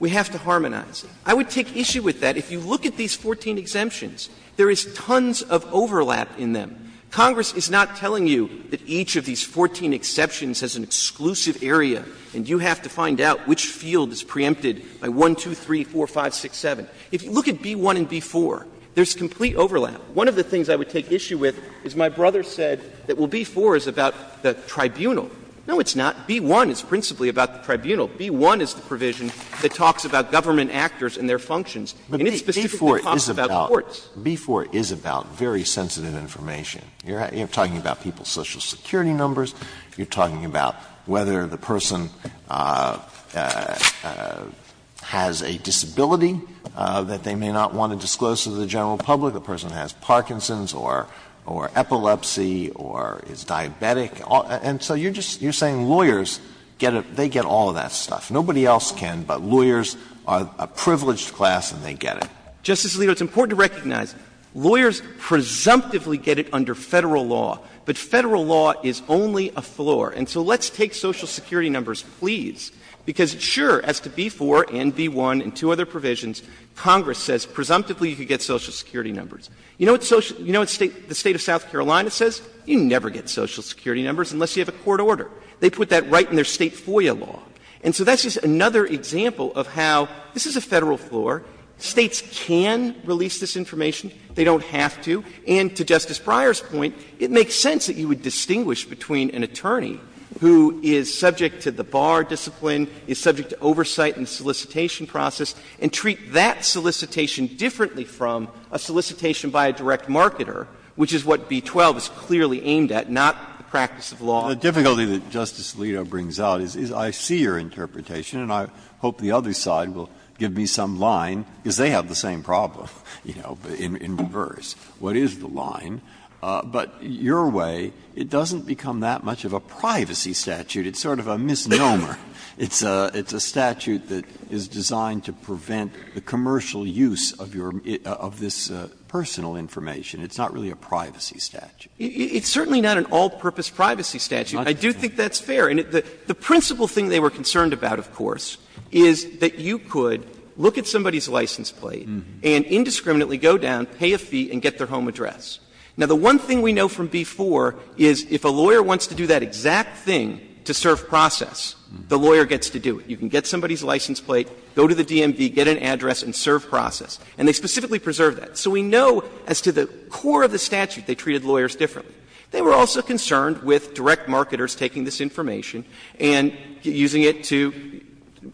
we have to harmonize. I would take issue with that. If you look at these 14 exemptions, there is tons of overlap in them. Congress is not telling you that each of these 14 exceptions has an exclusive area, and you have to find out which field is preempted by 1, 2, 3, 4, 5, 6, 7. If you look at B-1 and B-4, there's complete overlap. One of the things I would take issue with is my brother said that, well, B-4 is about the tribunal. No, it's not. B-1 is principally about the tribunal. B-1 is the provision that talks about government actors and their functions. And it specifically talks about courts. Alito, B-4 is about very sensitive information. You're talking about people's social security numbers. You're talking about whether the person has a disability that they may not want to disclose to the general public, the person has Parkinson's or epilepsy or is diabetic. And so you're just you're saying lawyers get a they get all of that stuff. Nobody else can, but lawyers are a privileged class and they get it. Justice Alito, it's important to recognize lawyers presumptively get it under Federal law, but Federal law is only a floor. And so let's take social security numbers, please, because sure, as to B-4 and B-1 and two other provisions, Congress says presumptively you could get social security numbers. You know what the State of South Carolina says? You never get social security numbers unless you have a court order. They put that right in their State FOIA law. And so that's just another example of how this is a Federal floor. States can release this information. They don't have to. And to Justice Breyer's point, it makes sense that you would distinguish between an attorney who is subject to the bar discipline, is subject to oversight in the solicitation process, and treat that solicitation differently from a solicitation by a direct marketer, which is what B-12 is clearly aimed at, not the practice of law. Breyer, the difficulty that Justice Alito brings out is I see your interpretation and I hope the other side will give me some line, because they have the same problem in reverse. What is the line? But your way, it doesn't become that much of a privacy statute. It's sort of a misnomer. It's a statute that is designed to prevent the commercial use of your – of this personal information. It's not really a privacy statute. It's certainly not an all-purpose privacy statute. I do think that's fair. And the principal thing they were concerned about, of course, is that you could look at somebody's license plate and indiscriminately go down, pay a fee, and get their home address. Now, the one thing we know from B-4 is if a lawyer wants to do that exact thing to serve process, the lawyer gets to do it. You can get somebody's license plate, go to the DMV, get an address and serve process. And they specifically preserve that. So we know as to the core of the statute, they treated lawyers differently. They were also concerned with direct marketers taking this information and using it to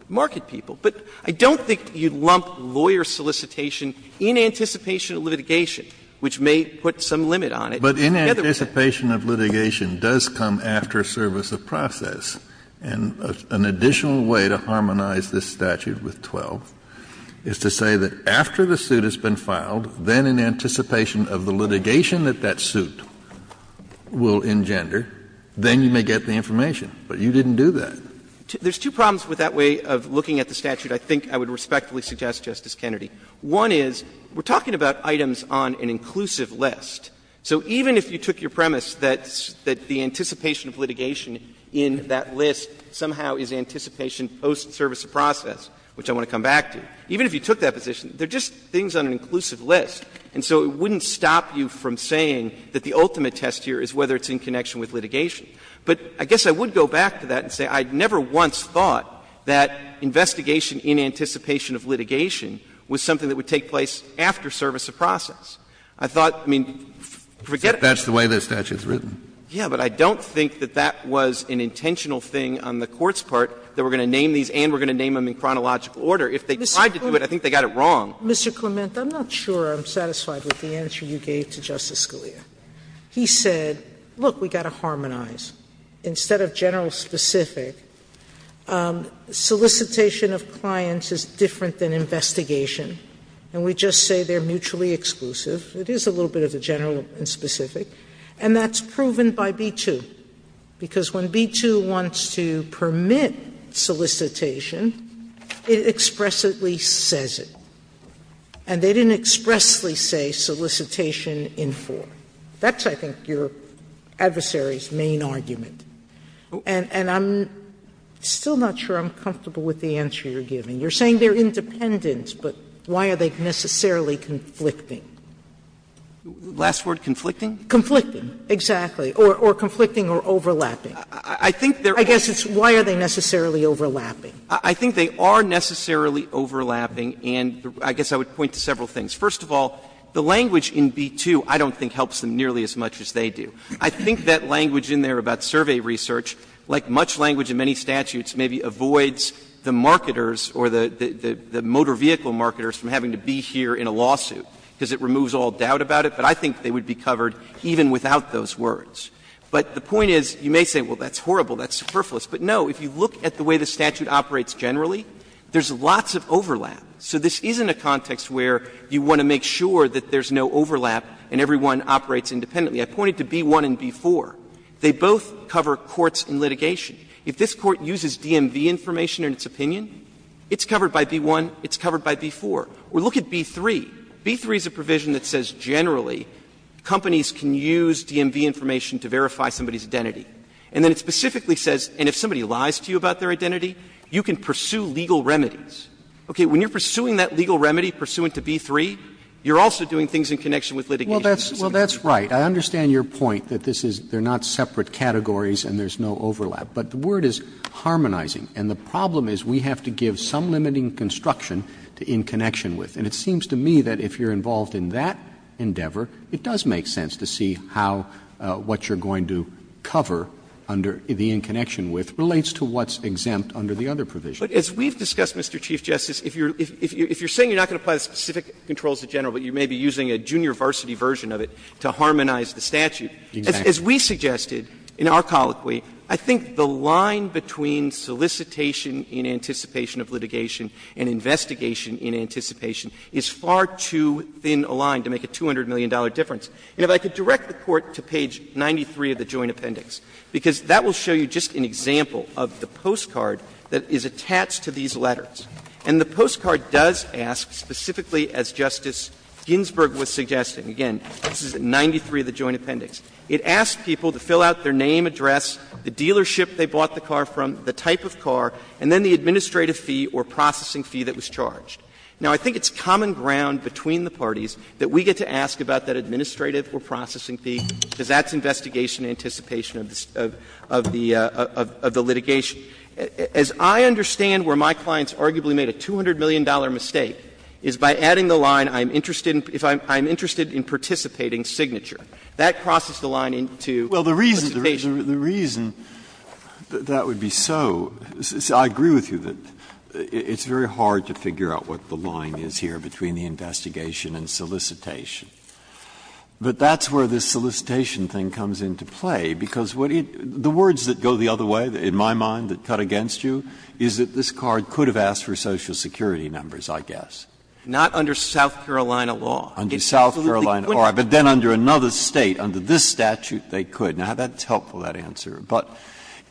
market people. But I don't think you'd lump lawyer solicitation in anticipation of litigation, which may put some limit on it. Kennedy, in other words, Kennedy, but in anticipation of litigation does come after service of process. And an additional way to harmonize this statute with 12th is to say that after the litigation, then in anticipation of the litigation that that suit will engender, then you may get the information. But you didn't do that. There's two problems with that way of looking at the statute I think I would respectfully suggest, Justice Kennedy. One is, we're talking about items on an inclusive list. So even if you took your premise that the anticipation of litigation in that list somehow is anticipation post service of process, which I want to come back to, even if you took that position, they're just things on an inclusive list. And so it wouldn't stop you from saying that the ultimate test here is whether it's in connection with litigation. But I guess I would go back to that and say I never once thought that investigation in anticipation of litigation was something that would take place after service of process. I thought, I mean, forget it. That's the way the statute is written. Yeah, but I don't think that that was an intentional thing on the Court's part, that we're going to name these and we're going to name them in chronological order. If they tried to do it, I think they got it wrong. Sotomayor, Mr. Clement, I'm not sure I'm satisfied with the answer you gave to Justice Scalia. He said, look, we've got to harmonize. Instead of general specific, solicitation of clients is different than investigation, and we just say they're mutually exclusive. It is a little bit of a general and specific, and that's proven by B-2, because when B-2 wants to permit solicitation, it expressively says it. And they didn't expressly say solicitation in form. That's, I think, your adversary's main argument. And I'm still not sure I'm comfortable with the answer you're giving. You're saying they're independent, but why are they necessarily conflicting? Clement, last word, conflicting? Conflicting, exactly, or conflicting or overlapping. I think they're I guess it's, why are they necessarily overlapping? I think they are necessarily overlapping, and I guess I would point to several things. First of all, the language in B-2 I don't think helps them nearly as much as they do. I think that language in there about survey research, like much language in many statutes, maybe avoids the marketers or the motor vehicle marketers from having to be here in a lawsuit, because it removes all doubt about it. But I think they would be covered even without those words. But the point is, you may say, well, that's horrible, that's superfluous. But no, if you look at the way the statute operates generally, there's lots of overlap. So this isn't a context where you want to make sure that there's no overlap and everyone operates independently. I pointed to B-1 and B-4. They both cover courts and litigation. If this Court uses DMV information in its opinion, it's covered by B-1, it's covered by B-4. Or look at B-3. B-3 is a provision that says generally companies can use DMV information to verify somebody's identity. And then it specifically says, and if somebody lies to you about their identity, you can pursue legal remedies. Okay. When you're pursuing that legal remedy pursuant to B-3, you're also doing things in connection with litigation. Roberts. Roberts. Well, that's right. I understand your point that this is they're not separate categories and there's no overlap. But the word is harmonizing. And the problem is we have to give some limiting construction to in connection with. And it seems to me that if you're involved in that endeavor, it does make sense to see how what you're going to cover under the in connection with relates to what's exempt under the other provision. But as we've discussed, Mr. Chief Justice, if you're saying you're not going to apply the specific controls to general, but you may be using a junior varsity version of it to harmonize the statute. Exactly. As we suggested in our colloquy, I think the line between solicitation in anticipation of litigation and investigation in anticipation is far too thin a line to make a $200 million difference. And if I could direct the Court to page 93 of the Joint Appendix, because that will show you just an example of the postcard that is attached to these letters. And the postcard does ask, specifically as Justice Ginsburg was suggesting, again, this is at 93 of the Joint Appendix, it asks people to fill out their name, address, the dealership they bought the car from, the type of car, and then the administrative fee or processing fee that was charged. Now, I think it's common ground between the parties that we get to ask about that administrative or processing fee, because that's investigation in anticipation of the litigation. As I understand where my clients arguably made a $200 million mistake is by adding the line, I'm interested in – if I'm interested in participating signature. That crosses the line into participation. Breyer, the reason that would be so, I agree with you that it's very hard to figure out what the line is here between the investigation and solicitation. But that's where this solicitation thing comes into play, because what it – the words that go the other way, in my mind, that cut against you, is that this card could have asked for Social Security numbers, I guess. Not under South Carolina law. Under South Carolina law, but then under another State, under this statute, they could. Now, that's helpful, that answer. But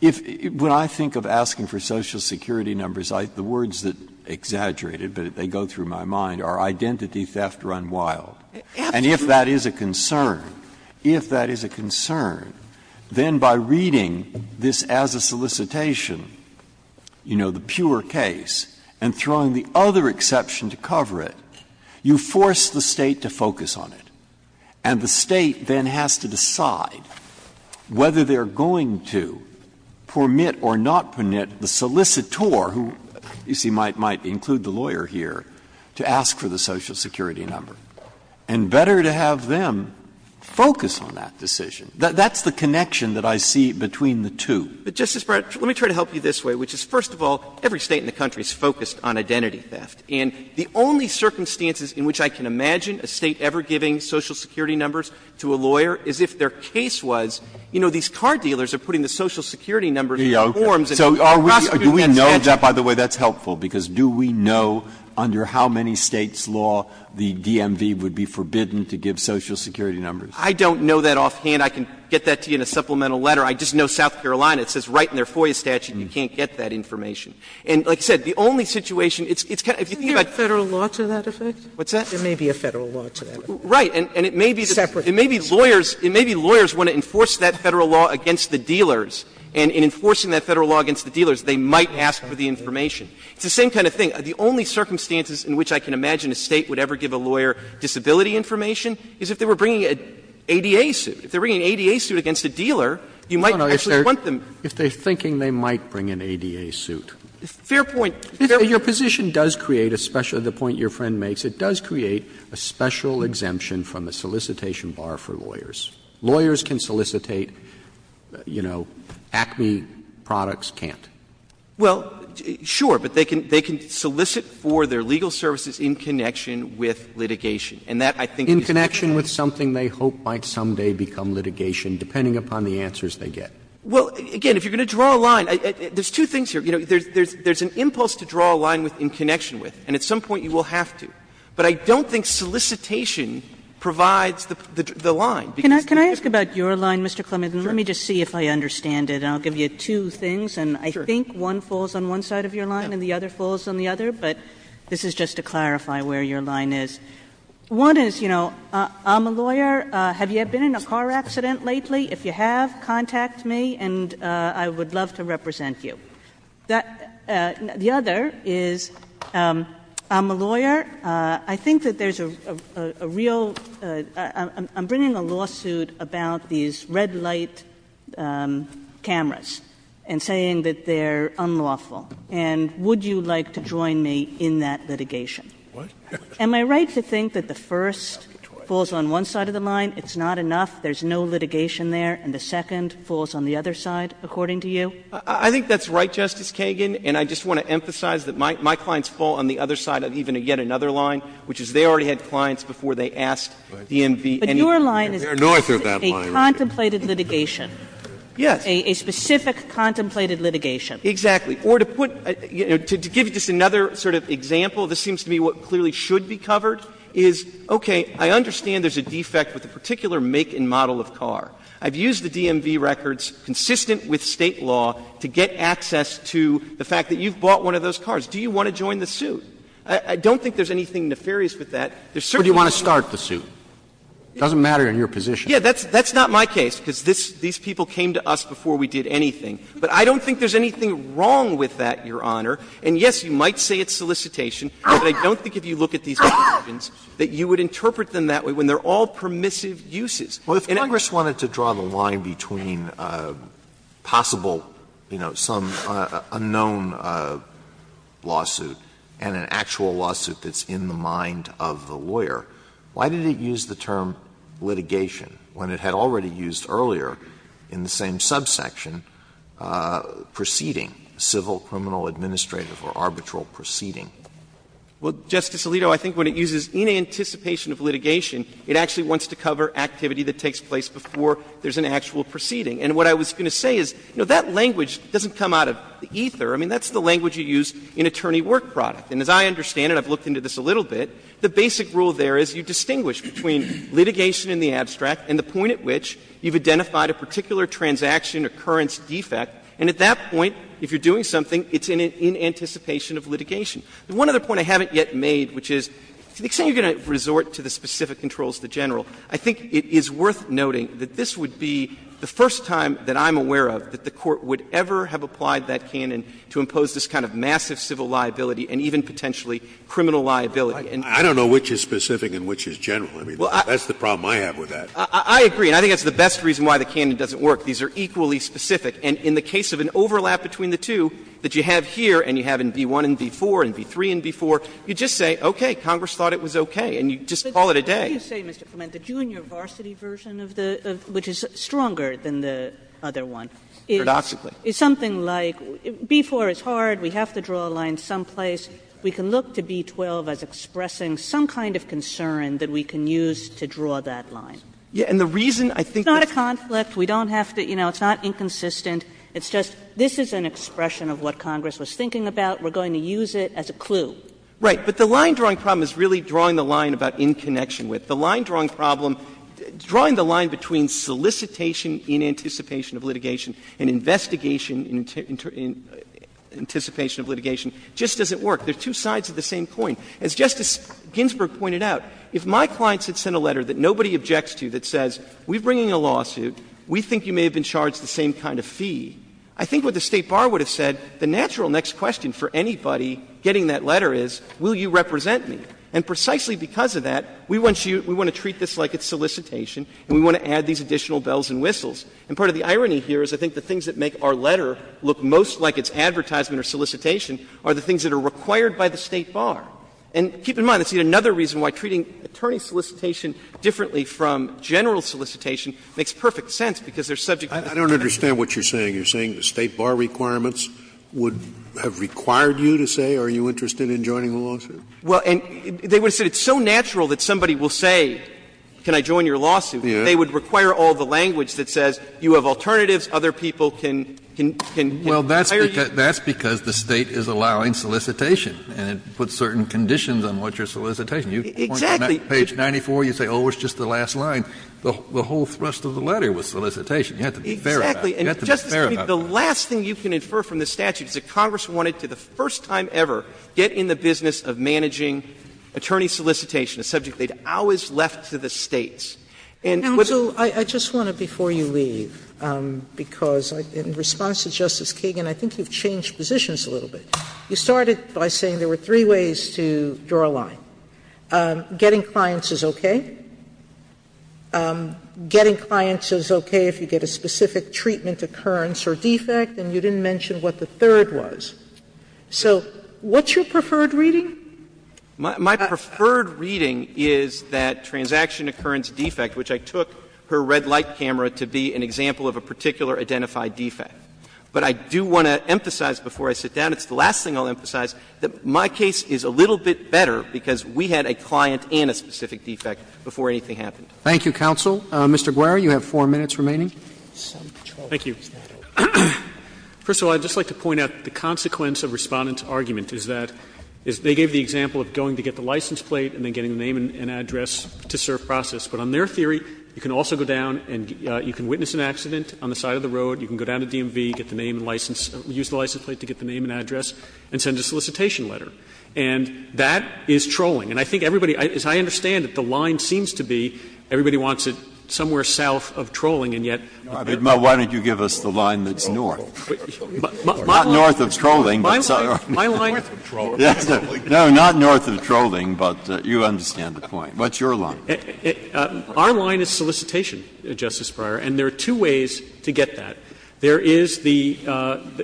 if – when I think of asking for Social Security numbers, the words that exaggerate it, but they go through my mind, are identity theft run wild. And if that is a concern, if that is a concern, then by reading this as a solicitation, you know, the pure case, and throwing the other exception to cover it, you force the State to focus on it. And the State then has to decide whether they are going to permit or not permit the solicitor, who you see might include the lawyer here, to ask for the Social Security number. And better to have them focus on that decision. That's the connection that I see between the two. But, Justice Breyer, let me try to help you this way, which is, first of all, every State in the country is focused on identity theft. And the only circumstances in which I can imagine a State ever giving Social Security numbers to a lawyer is if their case was, you know, these car dealers are putting the Social Security numbers in forms and prosecuting the statute. Breyer. Do we know that, by the way, that's helpful, because do we know under how many States' law the DMV would be forbidden to give Social Security numbers? I don't know that offhand. I can get that to you in a supplemental letter. I just know South Carolina, it says right in their FOIA statute, you can't get that information. And like I said, the only situation, it's kind of, if you think about it. Sotomayor, isn't there a Federal law to that effect? What's that? There may be a Federal law to that. Right. And it may be lawyers, it may be lawyers want to enforce that Federal law against the dealers, and in enforcing that Federal law against the dealers, they might ask for the information. It's the same kind of thing. The only circumstances in which I can imagine a State would ever give a lawyer disability information is if they were bringing an ADA suit. If they're bringing an ADA suit against a dealer, you might actually want them. If they're thinking they might bring an ADA suit. Fair point. Your position does create a special, the point your friend makes, it does create a special exemption from the solicitation bar for lawyers. Lawyers can solicitate, you know, Acme products can't. Well, sure, but they can solicit for their legal services in connection with litigation. And that, I think, is fair. In connection with something they hope might someday become litigation, depending upon the answers they get. Well, again, if you're going to draw a line, there's two things here. You know, there's an impulse to draw a line in connection with, and at some point you will have to. But I don't think solicitation provides the line. Because there's a difference. Kagan. Kagan. Can I ask about your line, Mr. Clement, and let me just see if I understand it, and I'll give you two things, and I think one falls on one side of your line and the other falls on the other, but this is just to clarify where your line is. One is, you know, I'm a lawyer, have you been in a car accident lately? If you have, contact me, and I would love to represent you. The other is, I'm a lawyer, I think that there's a real, I'm bringing a lawsuit about these red light cameras and saying that they're unlawful, and would you like to join me in that litigation? What? Am I right to think that the first falls on one side of the line, it's not enough, there's no litigation there, and the second falls on the other side, according to you? Clement. I think that's right, Justice Kagan, and I just want to emphasize that my clients fall on the other side of even yet another line, which is they already had clients before they asked DMV anything. But your line is a contemplated litigation. Yes. A specific contemplated litigation. Exactly. Or to put, to give you just another sort of example, this seems to me what clearly should be covered is, okay, I understand there's a defect with the particular make and model of car. I've used the DMV records, consistent with State law, to get access to the fact that you've bought one of those cars. Do you want to join the suit? I don't think there's anything nefarious with that. There's certainly no need to join the suit. So do you want to start the suit? It doesn't matter in your position. Yes, that's not my case, because these people came to us before we did anything. But I don't think there's anything wrong with that, Your Honor. And, yes, you might say it's solicitation, but I don't think if you look at these cases, there's no permissive uses. Alito, I think when it uses in anticipation of litigation, it actually wants to use to cover activity that takes place before there's an actual proceeding. And what I was going to say is, you know, that language doesn't come out of the ether. I mean, that's the language you use in attorney work product. And as I understand it, I've looked into this a little bit, the basic rule there is you distinguish between litigation in the abstract and the point at which you've identified a particular transaction occurrence defect, and at that point, if you're doing something, it's in anticipation of litigation. The one other point I haven't yet made, which is, to the extent you're going to resort to the specific controls of the general, I think it is worth noting that this would be the first time that I'm aware of that the Court would ever have applied that canon to impose this kind of massive civil liability and even potentially criminal liability. And I don't know which is specific and which is general. I mean, that's the problem I have with that. I agree. And I think that's the best reason why the canon doesn't work. These are equally specific. And in the case of an overlap between the two that you have here and you have in B-1 and B-4 and B-3 and B-4, you just say, okay, Congress thought it was okay. And you just call it a day. Kagan, what do you say, Mr. Clement, the junior varsity version of the — which is stronger than the other one, is something like, B-4 is hard, we have to draw a line someplace, we can look to B-12 as expressing some kind of concern that we can use to draw that line. Clement, and the reason I think that's not a conflict, we don't have to — you know, it's not inconsistent, it's just, this is an expression of what Congress was thinking about, we're going to use it as a clue. Right. But the line-drawing problem is really drawing the line about in connection with. The line-drawing problem — drawing the line between solicitation in anticipation of litigation and investigation in anticipation of litigation just doesn't work. They're two sides of the same coin. As Justice Ginsburg pointed out, if my clients had sent a letter that nobody objects to that says, we're bringing a lawsuit, we think you may have been charged the same kind of fee, I think what the State bar would have said, the natural next question for anybody getting that letter is, will you represent me? And precisely because of that, we want you — we want to treat this like it's solicitation and we want to add these additional bells and whistles. And part of the irony here is I think the things that make our letter look most like its advertisement or solicitation are the things that are required by the State bar. And keep in mind, that's yet another reason why treating attorney solicitation differently from general solicitation makes perfect sense, because they're subject to the State bar. Scalia, I don't understand what you're saying. You're saying the State bar requirements would have required you to say, are you interested in joining the lawsuit? Well, and they would have said it's so natural that somebody will say, can I join your lawsuit, that they would require all the language that says you have alternatives, other people can hire you. Well, that's because the State is allowing solicitation and it puts certain conditions on what your solicitation. Exactly. You point to page 94, you say, oh, it's just the last line. The whole thrust of the letter was solicitation. You have to be fair about it. Exactly. And, Justice Sotomayor, the last thing you can infer from this statute is that Congress wanted to, the first time ever, get in the business of managing attorney solicitation, a subject they had always left to the States. And with the other things that you said, Justice Sotomayor, I don't know if that's true. Sotomayor, I just want to, before you leave, because in response to Justice Kagan, I think you've changed positions a little bit. You started by saying there were three ways to draw a line. Getting clients is okay. Getting clients is okay if you get a specific treatment occurrence or defect, and you didn't mention what the third was. So what's your preferred reading? My preferred reading is that transaction occurrence defect, which I took her red light camera to be an example of a particular identified defect. But I do want to emphasize before I sit down, it's the last thing I'll emphasize, that my case is a little bit better because we had a client and a specific defect before anything happened. Roberts. Thank you, counsel. Mr. Guare, you have 4 minutes remaining. Guare. Thank you. First of all, I'd just like to point out the consequence of Respondent's argument is that they gave the example of going to get the license plate and then getting the name and address to serve process. But on their theory, you can also go down and you can witness an accident on the side of the road. You can go down to DMV, get the name and license, use the license plate to get the name and address, and send a solicitation letter. And that is trolling. And I think everybody, as I understand it, the line seems to be everybody wants it somewhere south of trolling, and yet. Breyer, why don't you give us the line that's north? Not north of trolling, but south. My line is north of trolling, but you understand the point. What's your line? Our line is solicitation, Justice Breyer, and there are two ways to get that. There is the —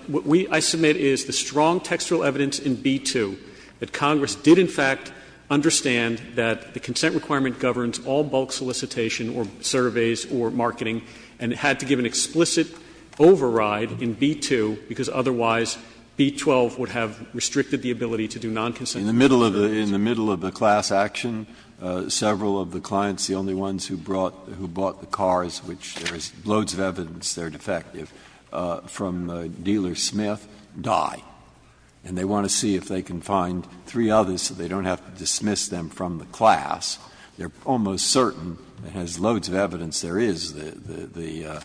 what we, I submit, is the strong textual evidence in B-2 that Congress did, in fact, understand that the consent requirement governs all bulk solicitation or surveys or marketing, and had to give an explicit override in B-2, because otherwise B-12 would have restricted the ability to do non-consensual solicitations. In the middle of the class action, several of the clients, the only ones who brought the cars, which there is loads of evidence they're defective, from the dealer Smith, die. And they want to see if they can find three others so they don't have to dismiss them from the class. They're almost certain, as loads of evidence there is, the,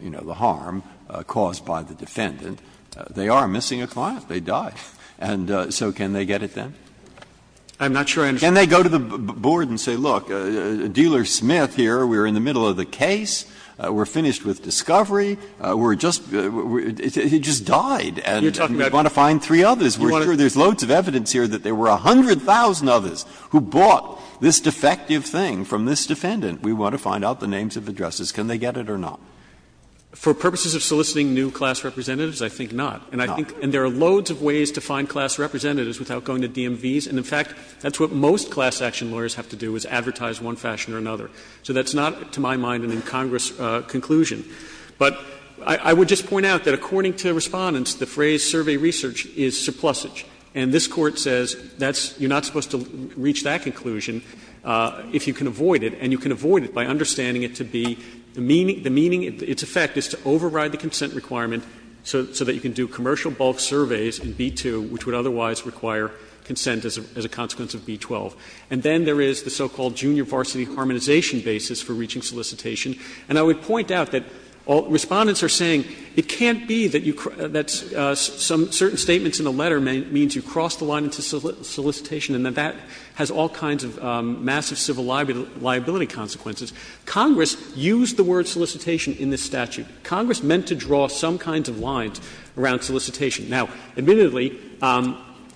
you know, the harm caused by the defendant. They are missing a client. They died. And so can they get it then? I'm not sure I understand. Can they go to the board and say, look, dealer Smith here, we're in the middle of the case, we're finished with discovery, we're just — he just died, and we want to find three others. We're sure there's loads of evidence here that there were 100,000 others who bought this defective thing from this defendant. We want to find out the names of addresses. Can they get it or not? For purposes of soliciting new class representatives, I think not. And I think there are loads of ways to find class representatives without going to DMVs. And in fact, that's what most class action lawyers have to do, is advertise one fashion or another. So that's not, to my mind, an incongruous conclusion. But I would just point out that according to Respondents, the phrase survey research is surplusage. And this Court says that's — you're not supposed to reach that conclusion if you can avoid it. And you can avoid it by understanding it to be — the meaning — its effect is to override the consent requirement so that you can do commercial bulk surveys in B2, which would otherwise require consent as a consequence of B12. And then there is the so-called junior varsity harmonization basis for reaching solicitation. And I would point out that Respondents are saying it can't be that you — that some certain statements in a letter means you crossed the line into solicitation and that that has all kinds of massive civil liability consequences. Congress used the word solicitation in this statute. Congress meant to draw some kinds of lines around solicitation. Now, admittedly,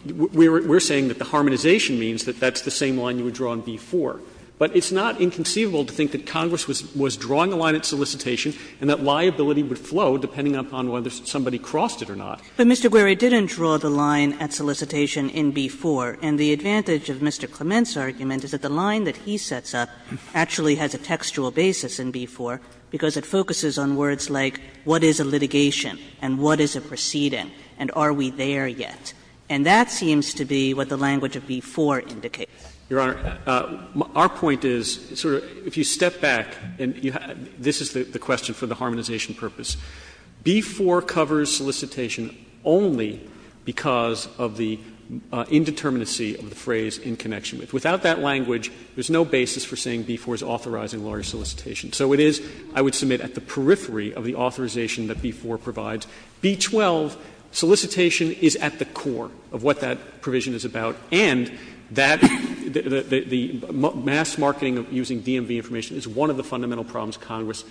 we're saying that the harmonization means that that's the same line you would draw in B4. But it's not inconceivable to think that Congress was drawing a line at solicitation and that liability would flow depending upon whether somebody crossed it or not. Kagan. Kagan. But Mr. Gueri didn't draw the line at solicitation in B4. And the advantage of Mr. Clement's argument is that the line that he sets up actually has a textual basis in B4 because it focuses on words like what is a litigation and what is a proceeding and are we there yet. And that seems to be what the language of B4 indicates. Your Honor, our point is, sort of, if you step back and you have — this is the question for the harmonization purpose. B4 covers solicitation only because of the indeterminacy of the phrase in connection with. Without that language, there's no basis for saying B4 is authorizing large solicitation. So it is, I would submit, at the periphery of the authorization that B4 provides. B12, solicitation is at the core of what that provision is about. And that the mass marketing of using DMV information is one of the fundamental problems Congress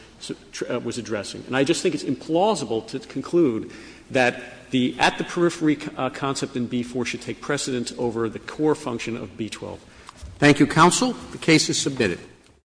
was addressing. And I just think it's implausible to conclude that the at-the-periphery concept in B4 should take precedent over the core function of B12. Roberts. Thank you, counsel. The case is submitted.